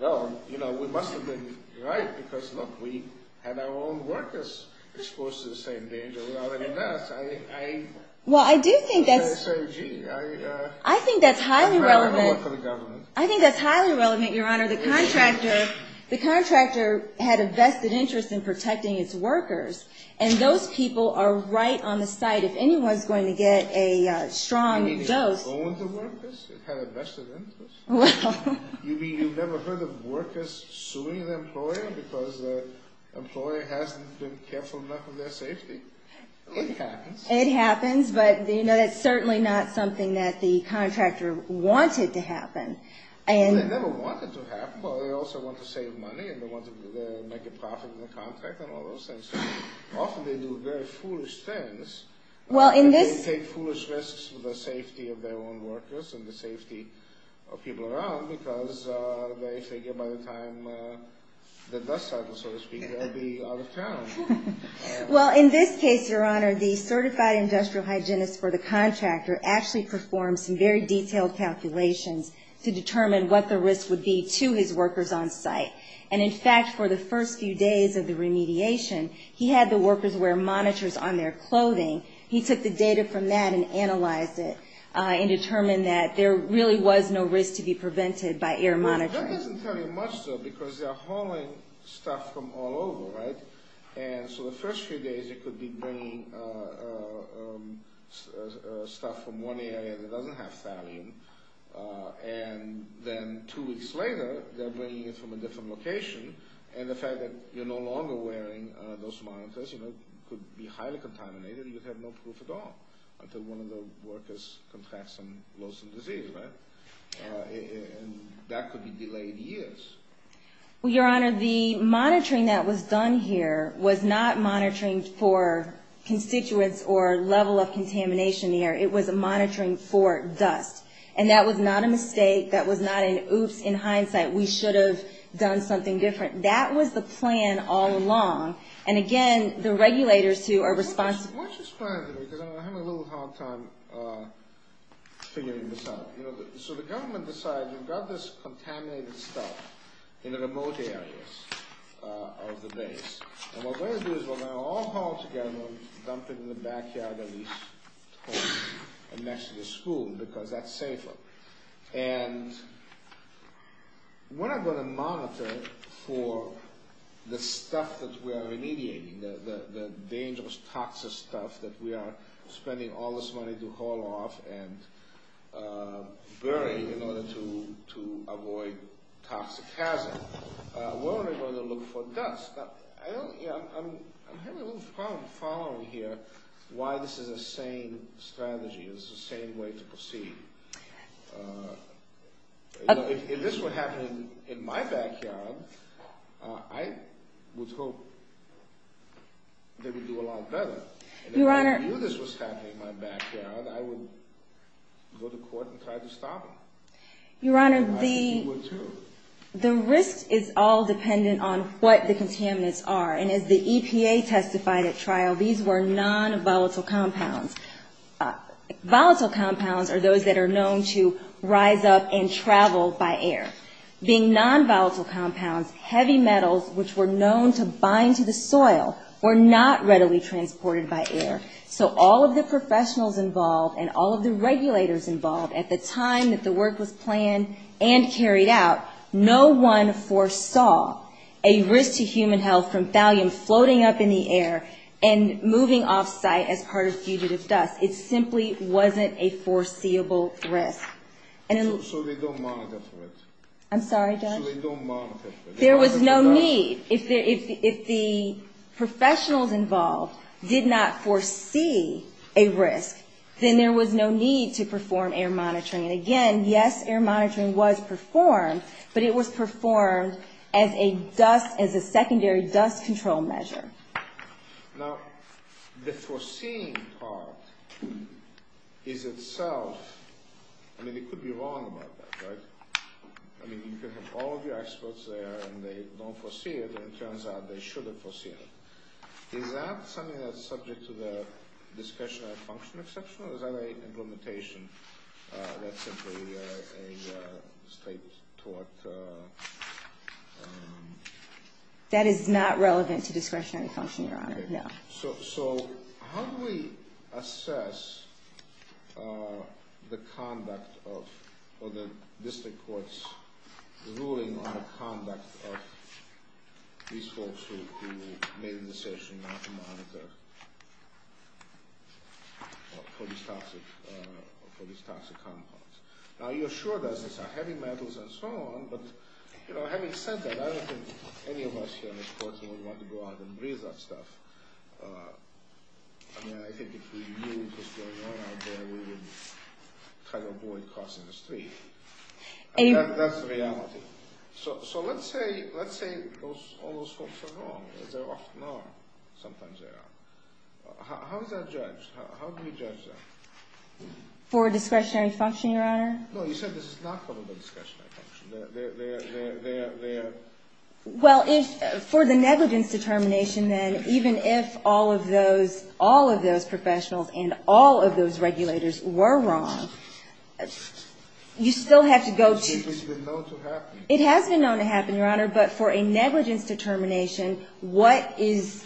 Well, you know, we must have been right because, look, we had our own workers exposed to the same danger. Well, I do think that's highly relevant. I think that's highly relevant, Your Honor. The contractor had a vested interest in protecting its workers. And those people are right on the site. If anyone's going to get a strong dose. You mean it owned the workers? It had a vested interest? Well. You mean you've never heard of workers suing their employer because their employer hasn't been careful enough of their safety? It happens. It happens, but, you know, it's certainly not something that the contractor wanted to happen. They never wanted to happen. Well, they also wanted to save money and they wanted to make a profit in the contract and all those things. Often they do very foolish things. They take foolish risks for the safety of their own workers and the safety of people around because they figure by the time the dust cycle, so to speak, they'll be out of town. Well, in this case, Your Honor, the certified industrial hygienist for the contractor actually performed some very detailed calculations to determine what the risk would be to his workers on site. And, in fact, for the first few days of the remediation, he had the workers wear monitors on their clothing. He took the data from that and analyzed it and determined that there really was no risk to be prevented by air monitoring. That doesn't tell you much, though, because they're hauling stuff from all over, right? And so the first few days it could be bringing stuff from one area that doesn't have thallium, and then two weeks later they're bringing it from a different location, and the fact that you're no longer wearing those monitors, you know, could be highly contaminated and you have no proof at all until one of the workers confesses and loads some disease, right? And that could be delayed years. Well, Your Honor, the monitoring that was done here was not monitoring for constituents or level of contamination here. It was monitoring for dust. And that was not a mistake. That was not an oops in hindsight. We should have done something different. That was the plan all along. And, again, the regulators who are responsible... What's this plan? I'm having a little hard time figuring this out. So the government decides you've got this contaminated stuff in the remote areas of the base, and what they're going to do is when they're all hauled together, they'll dump it in the backyard of the school because that's safer. And we're not going to monitor for the stuff that we are remediating, the dangerous, toxic stuff that we are spending all this money to haul off and bury in order to avoid toxic hazard. We're only going to look for dust. I'm having a little problem following here why this is the same strategy. It's the same way to proceed. If this were happening in my backyard, I would hope they would do a lot better. And if I knew this was happening in my backyard, I would go to court and try to stop it. Your Honor, the risk is all dependent on what the contaminants are. And as the EPA testified at trial, these were non-volatile compounds. Volatile compounds are those that are known to rise up and travel by air. Being non-volatile compounds, heavy metals, which were known to bind to the soil, were not readily transported by air. So all of the professionals involved and all of the regulators involved at the time that the work was planned and carried out, no one foresaw a risk to human health from thallium floating up in the air and moving off-site as part of fugitive dust. It simply wasn't a foreseeable risk. So they don't monitor for it? I'm sorry, Judge? So they don't monitor for it? There was no need. If the professionals involved did not foresee a risk, then there was no need to perform air monitoring. And again, yes, air monitoring was performed, but it was performed as a secondary dust control measure. Now, the foreseeing part is itself... I mean, you could be wrong about that, right? I mean, you can have all of your experts there, and they don't foresee it, and it turns out they should have foreseen it. Is that something that's subject to the discretionary function exception? Well, is that an implementation that simply a state-taught... That is not relevant to discretionary function, Your Honor, no. So how do we assess the conduct of, or the district court's ruling on the conduct of these folks who made the decision not to monitor for these toxic compounds? Now, you're sure that it's heavy metals and so on, but, you know, having said that, I don't think any of us here in this courtroom would want to go out and breathe that stuff. I mean, I think if we knew what was going on out there, we would try to avoid crossing the street. That's the reality. So let's say all those folks were wrong. They often are. Sometimes they are. How is that judged? How do we judge that? For discretionary function, Your Honor? No, you said this is not for the discretionary function. Well, for the negligence determination, then, even if all of those professionals and all of those regulators were wrong, you still have to go to... It has been known to happen. It has been known to happen, Your Honor, but for a negligence determination, what has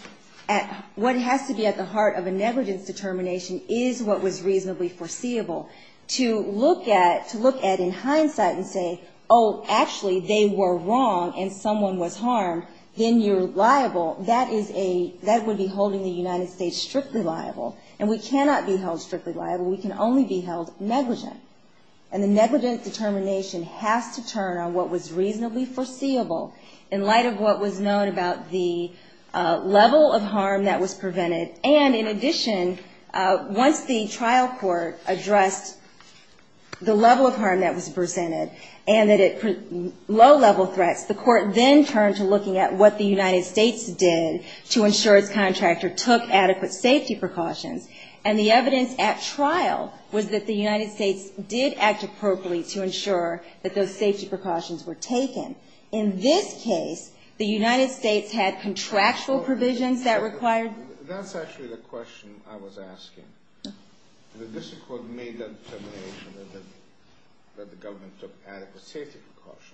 to be at the heart of a negligence determination is what was reasonably foreseeable. To look at, in hindsight, and say, oh, actually, they were wrong and someone was harmed, then you're liable. That would be holding the United States strictly liable. And we cannot be held strictly liable. We can only be held negligent. And the negligence determination has to turn on what was reasonably foreseeable in light of what was known about the level of harm that was prevented. And, in addition, once the trial court addressed the level of harm that was presented and that it was low-level threats, the court then turned to looking at what the United States did to ensure its contractor took adequate safety precautions. And the evidence at trial was that the United States did act appropriately to ensure that those safety precautions were taken. In this case, the United States had contractual provisions that required... That's actually the question I was asking. This is what made the determination that the government took adequate safety precautions.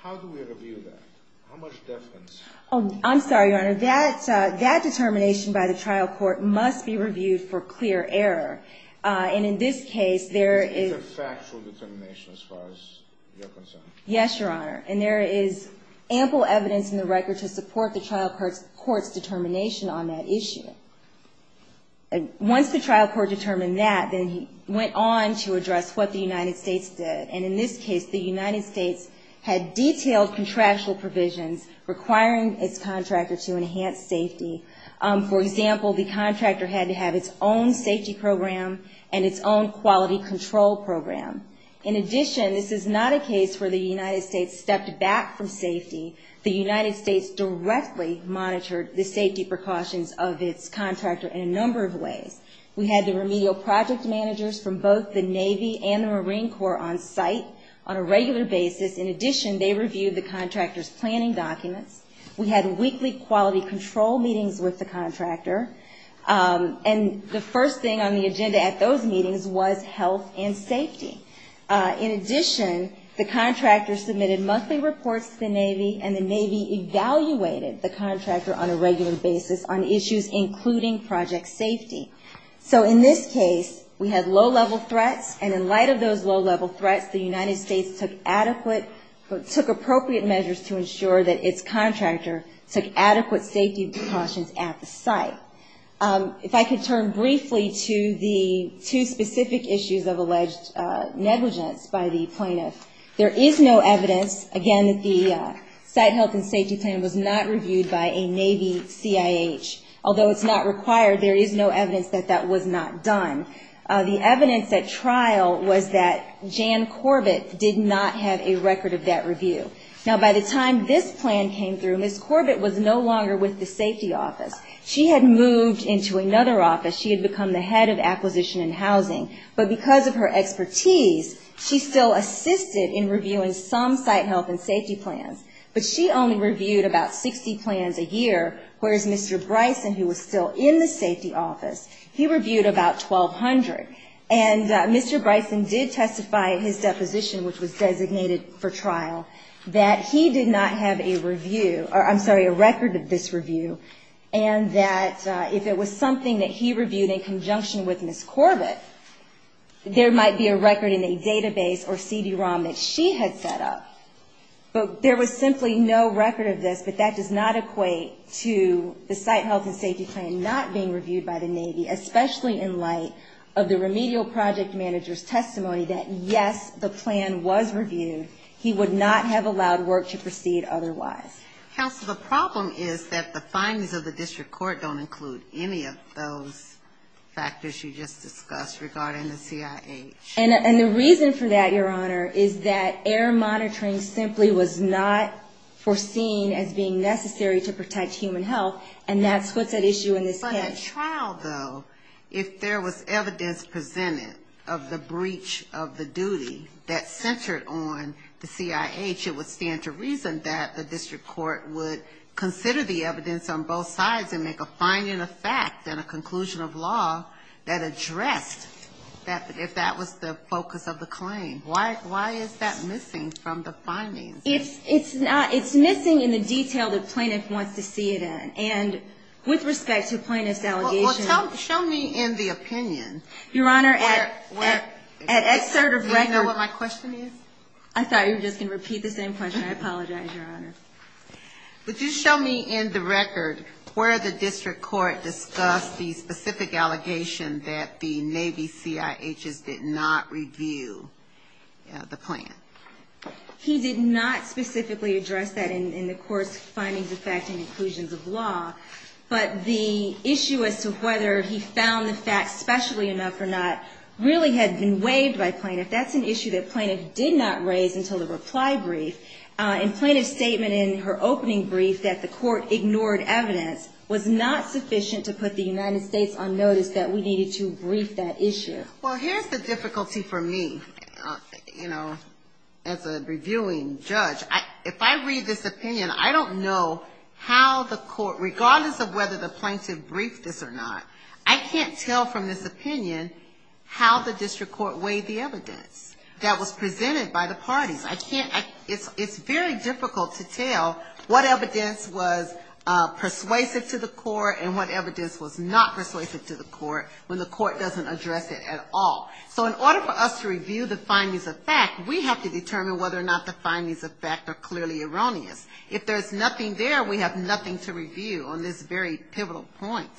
How do we review that? How much difference... Oh, I'm sorry, Your Honor. That determination by the trial court must be reviewed for clear error. And, in this case, there is... It's a factual determination as far as you're concerned. Yes, Your Honor. And there is ample evidence in the record to support the trial court's determination on that issue. Once the trial court determined that, then he went on to address what the United States did. And, in this case, the United States had detailed contractual provisions requiring its contractor to enhance safety. For example, the contractor had to have its own safety program and its own quality control program. In addition, this is not a case where the United States stepped back from safety. The United States directly monitored the safety precautions of its contractor in a number of ways. We had the remedial project managers from both the Navy and the Marine Corps on site on a regular basis. In addition, they reviewed the contractor's planning documents. And the first thing on the agenda at those meetings was health and safety. In addition, the contractor submitted monthly reports to the Navy, and the Navy evaluated the contractor on a regular basis on issues including project safety. So, in this case, we had low-level threats, and in light of those low-level threats, the United States took appropriate measures to ensure that its contractor took adequate safety precautions at the site. If I could turn briefly to the two specific issues of alleged negligence by the plaintiffs. There is no evidence, again, that the site health and safety plan was not reviewed by a Navy CIH. Although it's not required, there is no evidence that that was not done. The evidence at trial was that Jan Corbett did not have a record of that review. Now, by the time this plan came through, Ms. Corbett was no longer with the safety office. She had moved into another office. She had become the head of acquisition and housing. But because of her expertise, she still assisted in reviewing some site health and safety plans. But she only reviewed about 60 plans a year, whereas Mr. Bryson, who was still in the safety office, he reviewed about 1,200. And Mr. Bryson did testify in his deposition, which was designated for trial, that he did not have a review, or I'm sorry, a record of this review, and that if it was something that he reviewed in conjunction with Ms. Corbett, there might be a record in a database or CD-ROM that she had set up. But there was simply no record of this. But that does not equate to the site health and safety plan not being reviewed by the Navy, especially in light of the remedial project manager's testimony that, yes, the plan was reviewed. He would not have allowed work to proceed otherwise. Counsel, the problem is that the findings of the district court don't include any of those factors you just discussed regarding the CIH. And the reason for that, Your Honor, is that error monitoring simply was not foreseen as being necessary to protect human health, and that's what that issue is. But a trial, though, if there was evidence presented of the breach of the duty that centered on the CIH, it would stand to reason that the district court would consider the evidence on both sides and make a finding of facts and a conclusion of law that addressed if that was the focus of the claim. Why is that missing from the findings? It's missing in the detail the plaintiff wants to see it in. And with respect to plaintiff's allegations... Well, show me in the opinion. Your Honor, at excerpt of record... Do you know what my question is? I'm sorry, you're just going to repeat the same question. I apologize, Your Honor. Would you show me in the record where the district court discussed the specific allegation that the Navy CIHs did not review the plaintiff? He did not specifically address that in the court's findings of facts and conclusions of law. But the issue as to whether he found the facts specially enough or not really had been waived by plaintiff. That's an issue that plaintiff did not raise until the reply brief. And plaintiff's statement in her opening brief that the court ignored evidence was not sufficient to put the United States on notice that we needed to brief that issue. Well, here's the difficulty for me, you know, as a reviewing judge. If I read this opinion, I don't know how the court, regardless of whether the plaintiff briefed this or not, I can't tell from this opinion how the district court weighed the evidence that was presented by the parties. It's very difficult to tell what evidence was persuasive to the court and what evidence was not persuasive to the court when the court doesn't address it at all. So in order for us to review the findings of fact, we have to determine whether or not the findings of fact are clearly erroneous. If there's nothing there, we have nothing to review on this very pivotal point.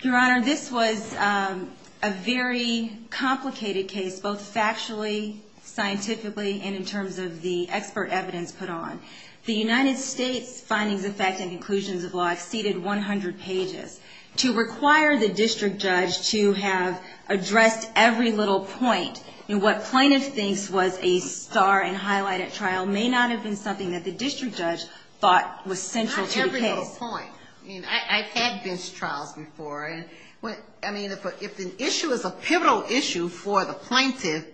Your Honor, this was a very complicated case, both factually, scientifically, and in terms of the expert evidence put on. The United States findings of fact and conclusions of law exceeded 100 pages. To require the district judge to have addressed every little point, and what plaintiff thinks was a star and highlighted trial may not have been something that the district judge thought was central to the case. Every little point. I mean, I've had bench trials before, and I mean, if an issue is a pivotal issue for the plaintiff,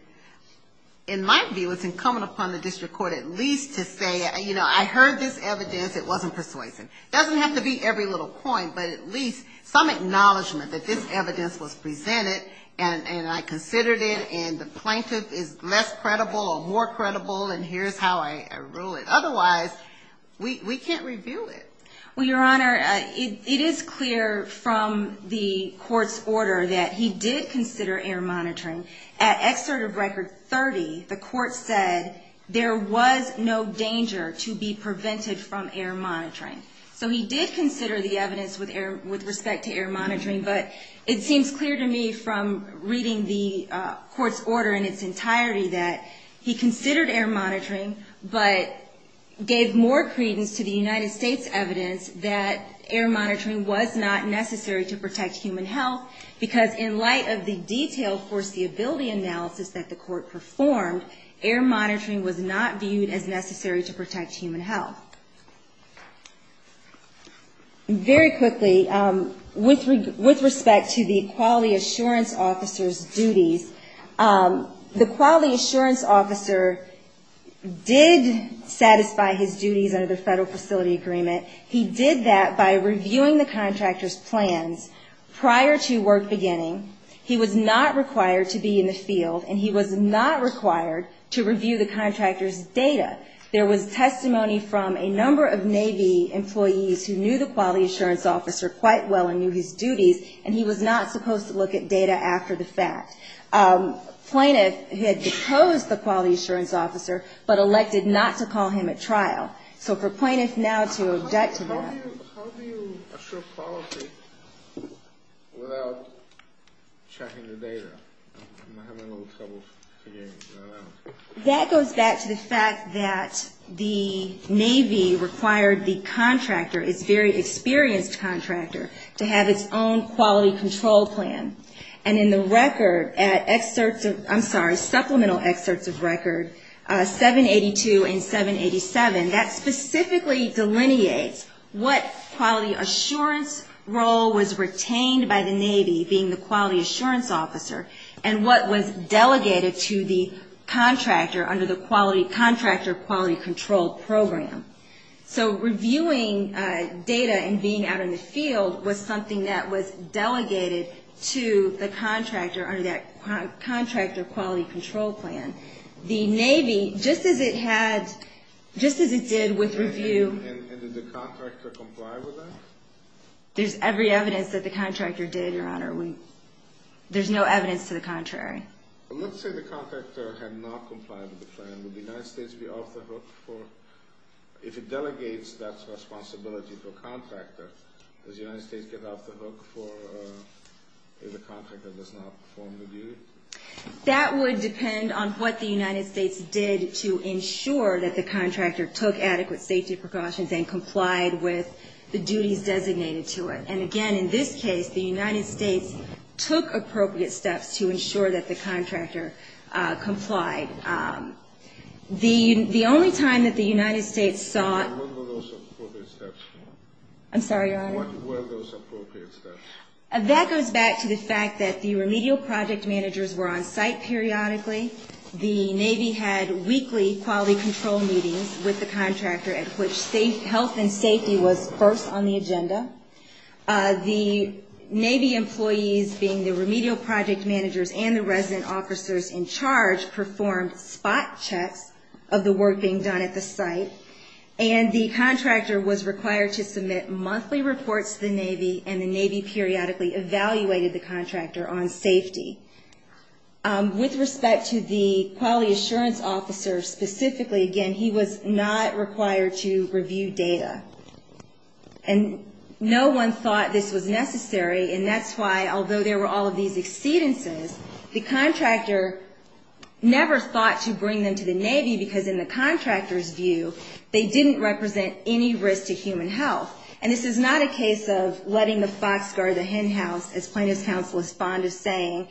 in my view, it's incumbent upon the district court at least to say, you know, I heard this evidence, it wasn't persuasive. It doesn't have to be every little point, but at least some acknowledgement that this evidence was presented, and I considered it, and the plaintiff is less credible or more credible, and here's how I rule it. Otherwise, we can't review it. Well, Your Honor, it is clear from the court's order that he did consider air monitoring. At Excerpt of Record 30, the court said there was no danger to be prevented from air monitoring. So he did consider the evidence with respect to air monitoring, but it seems clear to me from reading the court's order in its entirety that he considered air monitoring, but gave more credence to the United States evidence that air monitoring was not necessary to protect human health, because in light of the detailed foreseeability analysis that the court performed, air monitoring was not viewed as necessary to protect human health. Very quickly, with respect to the quality assurance officer's duties, the quality assurance officer did satisfy his duties under the Federal Facility Agreement. He did that by reviewing the contractor's plan prior to work beginning. He was not required to be in the field, and he was not required to review the contractor's data. There was testimony from a number of Navy employees who knew the quality assurance officer quite well and knew his duties, and he was not supposed to look at data after the fact. Plaintiff had decoded the quality assurance officer, but elected not to call him at trial. So for plaintiff now to object to that. How do you assure policy without checking the data? I'm having a little trouble seeing. That goes back to the fact that the Navy required the contractor, its very experienced contractor, to have its own quality control plan. And in the record, I'm sorry, supplemental excerpts of records 782 and 787, that specifically delineates what quality assurance role was retained by the Navy, being the quality assurance officer, and what was delegated to the contractor under the Quality Contractor Quality Control Program. So reviewing data and being out in the field was something that was delegated to the contractor under that Contractor Quality Control Plan. The Navy, just as it had, just as it did with review. And did the contractor comply with that? There's every evidence that the contractor did, Your Honor. There's no evidence to the contrary. It looks like the contractor had not complied with the plan. Would the United States be off the hook for, if it delegates that responsibility to a contractor, does the United States get off the hook for if the contractor does not perform the review? That would depend on what the United States did to ensure that the contractor took adequate safety precautions and complied with the duties designated to it. And, again, in this case, the United States took appropriate steps to ensure that the contractor complied. The only time that the United States saw... What were those appropriate steps? I'm sorry, Your Honor. What were those appropriate steps? That goes back to the fact that the remedial project managers were on site periodically. The Navy had weekly quality control meetings with the contractor at which health and safety was first on the agenda. The Navy employees, being the remedial project managers and the resident officers in charge, performed spot checks of the work being done at the site. And the contractor was required to submit monthly reports to the Navy, and the Navy periodically evaluated the contractor on safety. With respect to the quality assurance officer specifically, again, he was not required to review data. And no one thought this was necessary, and that's why, although there were all of these exceedances, the contractor never thought to bring them to the Navy because, in the contractor's view, they didn't represent any risk to human health. And this is not a case of letting the fox guard the hen house, as plaintiff's counseless bond is saying,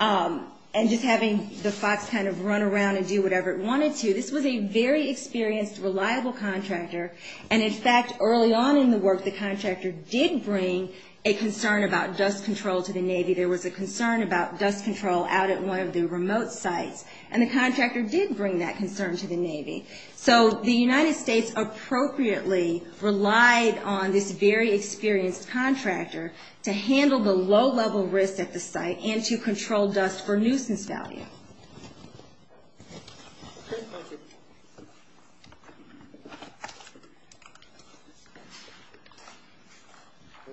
and just having the fox kind of run around and do whatever it wanted to. This was a very experienced, reliable contractor. And, in fact, early on in the work, the contractor did bring a concern about dust control to the Navy. There was a concern about dust control out at one of the remote sites, and the contractor did bring that concern to the Navy. So the United States appropriately relied on this very experienced contractor to handle the low-level risk at the site and to control dust for nuisance value. Okay, thank you.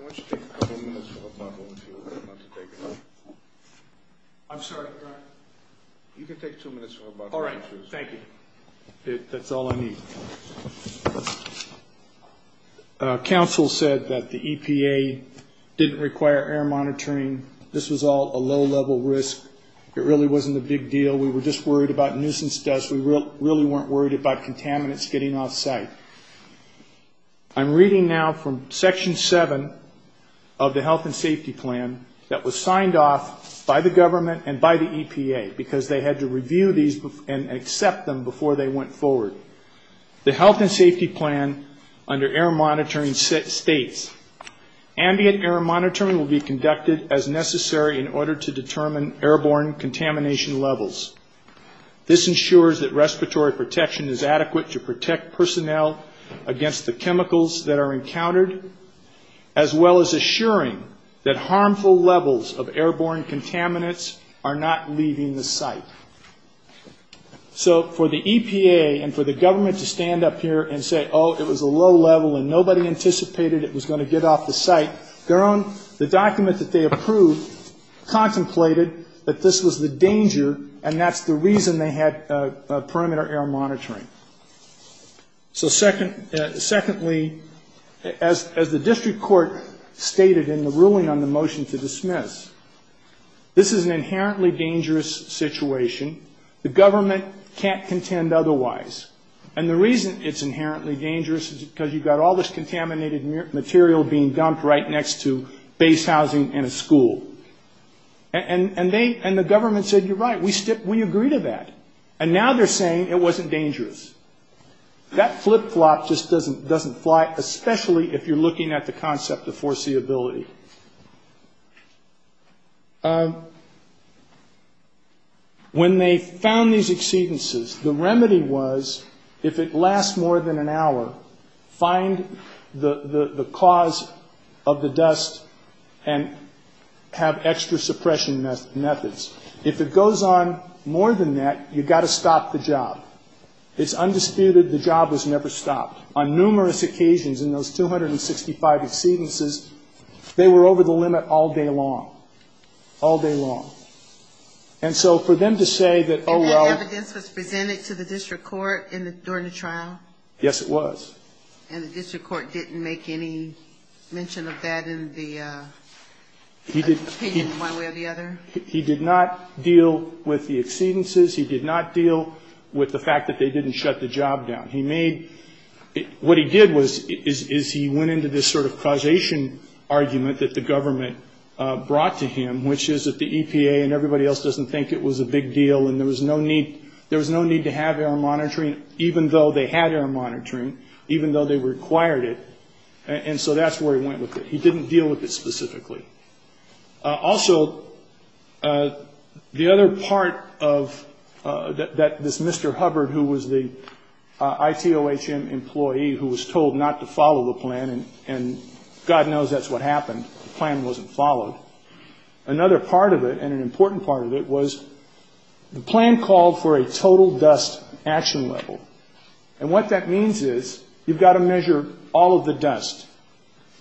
I want you to take a couple minutes, and we'll come back over to you. I'm sorry. You can take two minutes. All right. Thank you. That's all I need. Counsel said that the EPA didn't require air monitoring. This was all a low-level risk. It really wasn't a big deal. We were just worried about nuisance dust. We really weren't worried about contaminants getting off site. I'm reading now from Section 7 of the Health and Safety Plan that was signed off by the government and by the EPA because they had to review these and accept them before they went forward. The Health and Safety Plan under air monitoring states, Ambient air monitoring will be conducted as necessary in order to determine airborne contamination levels. This ensures that respiratory protection is adequate to protect personnel against the chemicals that are encountered, as well as assuring that harmful levels of airborne contaminants are not leaving the site. For the EPA and for the government to stand up here and say, oh, it was a low level and nobody anticipated it was going to get off the site, the document that they approved contemplated that this was a danger, and that's the reason they had perimeter air monitoring. Secondly, as the district court stated in the ruling on the motion to dismiss, this is an inherently dangerous situation. The government can't contend otherwise, and the reason it's inherently dangerous is because you've got all this contaminated material being dumped right next to base housing and a school. And the government said, you're right, we agree to that. And now they're saying it wasn't dangerous. That flip-flop just doesn't fly, especially if you're looking at the concept of foreseeability. When they found these exceedances, the remedy was, if it lasts more than an hour, find the cause of the dust and have extra suppression methods. If it goes on more than that, you've got to stop the job. It's undisputed the job was never stopped. On numerous occasions in those 265 exceedances, they were over the limit all day long. All day long. And so for them to say that, oh, well- And that evidence was presented to the district court during the trial? Yes, it was. And the district court didn't make any mention of that in the opinion one way or the other? He did not deal with the exceedances. He did not deal with the fact that they didn't shut the job down. What he did was he went into this sort of causation argument that the government brought to him, which is that the EPA and everybody else doesn't think it was a big deal and there was no need to have air monitoring, even though they had air monitoring, even though they required it. And so that's where he went with it. He didn't deal with it specifically. Also, the other part of this Mr. Hubbard, who was the ITOHM employee who was told not to follow the plan, and God knows that's what happened. The plan wasn't followed. Another part of it, and an important part of it, was the plan called for a total dust action level. And what that means is you've got to measure all of the dust.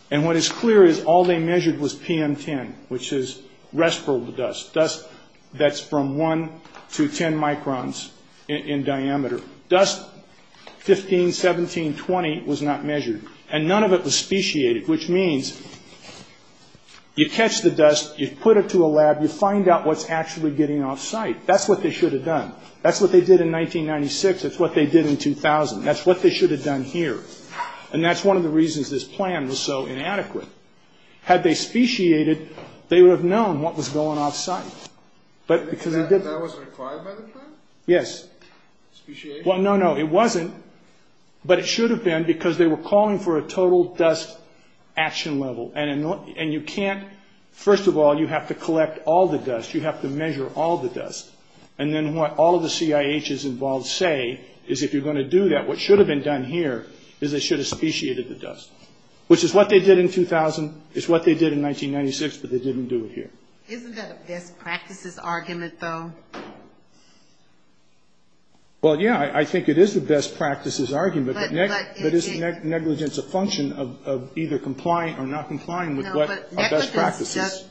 And what is clear is all they measured was PM10, which is respirable dust, dust that's from 1 to 10 microns in diameter. Dust 15, 17, 20 was not measured. And none of it was speciated, which means you catch the dust, you put it to a lab, you find out what's actually getting off site. That's what they should have done. That's what they did in 1996. That's what they did in 2000. That's what they should have done here. And that's one of the reasons this plan was so inadequate. Had they speciated, they would have known what was going off site. That wasn't required by the plan? Yes. Speciation? Well, no, no, it wasn't. But it should have been because they were calling for a total dust action level. And you can't, first of all, you have to collect all the dust. You have to measure all the dust. And then what all of the CIHs involved say is if you're going to do that, what should have been done here is they should have speciated the dust, which is what they did in 2000. It's what they did in 1996, but they didn't do it here. Isn't that a best practices argument, though? Well, yeah, I think it is the best practices argument. But isn't negligence a function of either complying or not complying with what are best practices?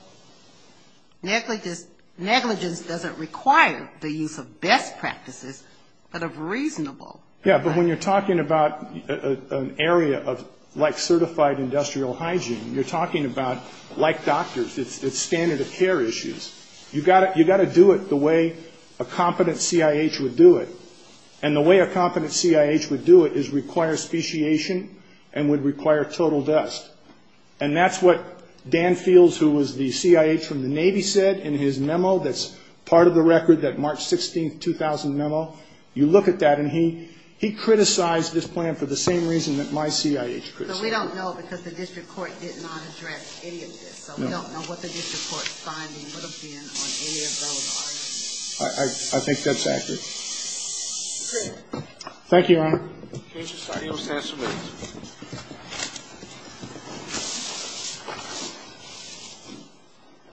Negligence doesn't require the use of best practices, but of reasonable. Yeah, but when you're talking about an area like certified industrial hygiene, you're talking about, like doctors, it's standard of care issues. You've got to do it the way a competent CIH would do it. And the way a competent CIH would do it is require speciation and would require total dust. And that's what Dan Fields, who was the CIH from the Navy, said in his memo that's part of the record, that March 16, 2000 memo. You look at that, and he criticized this plan for the same reason that my CIH criticized it. So we don't know because the district court did not address any of this. So we don't know what the district court's finding would have been on any of those items. I think that's accurate. Okay. Thank you, Anne. Thank you, Scott. You're most welcome.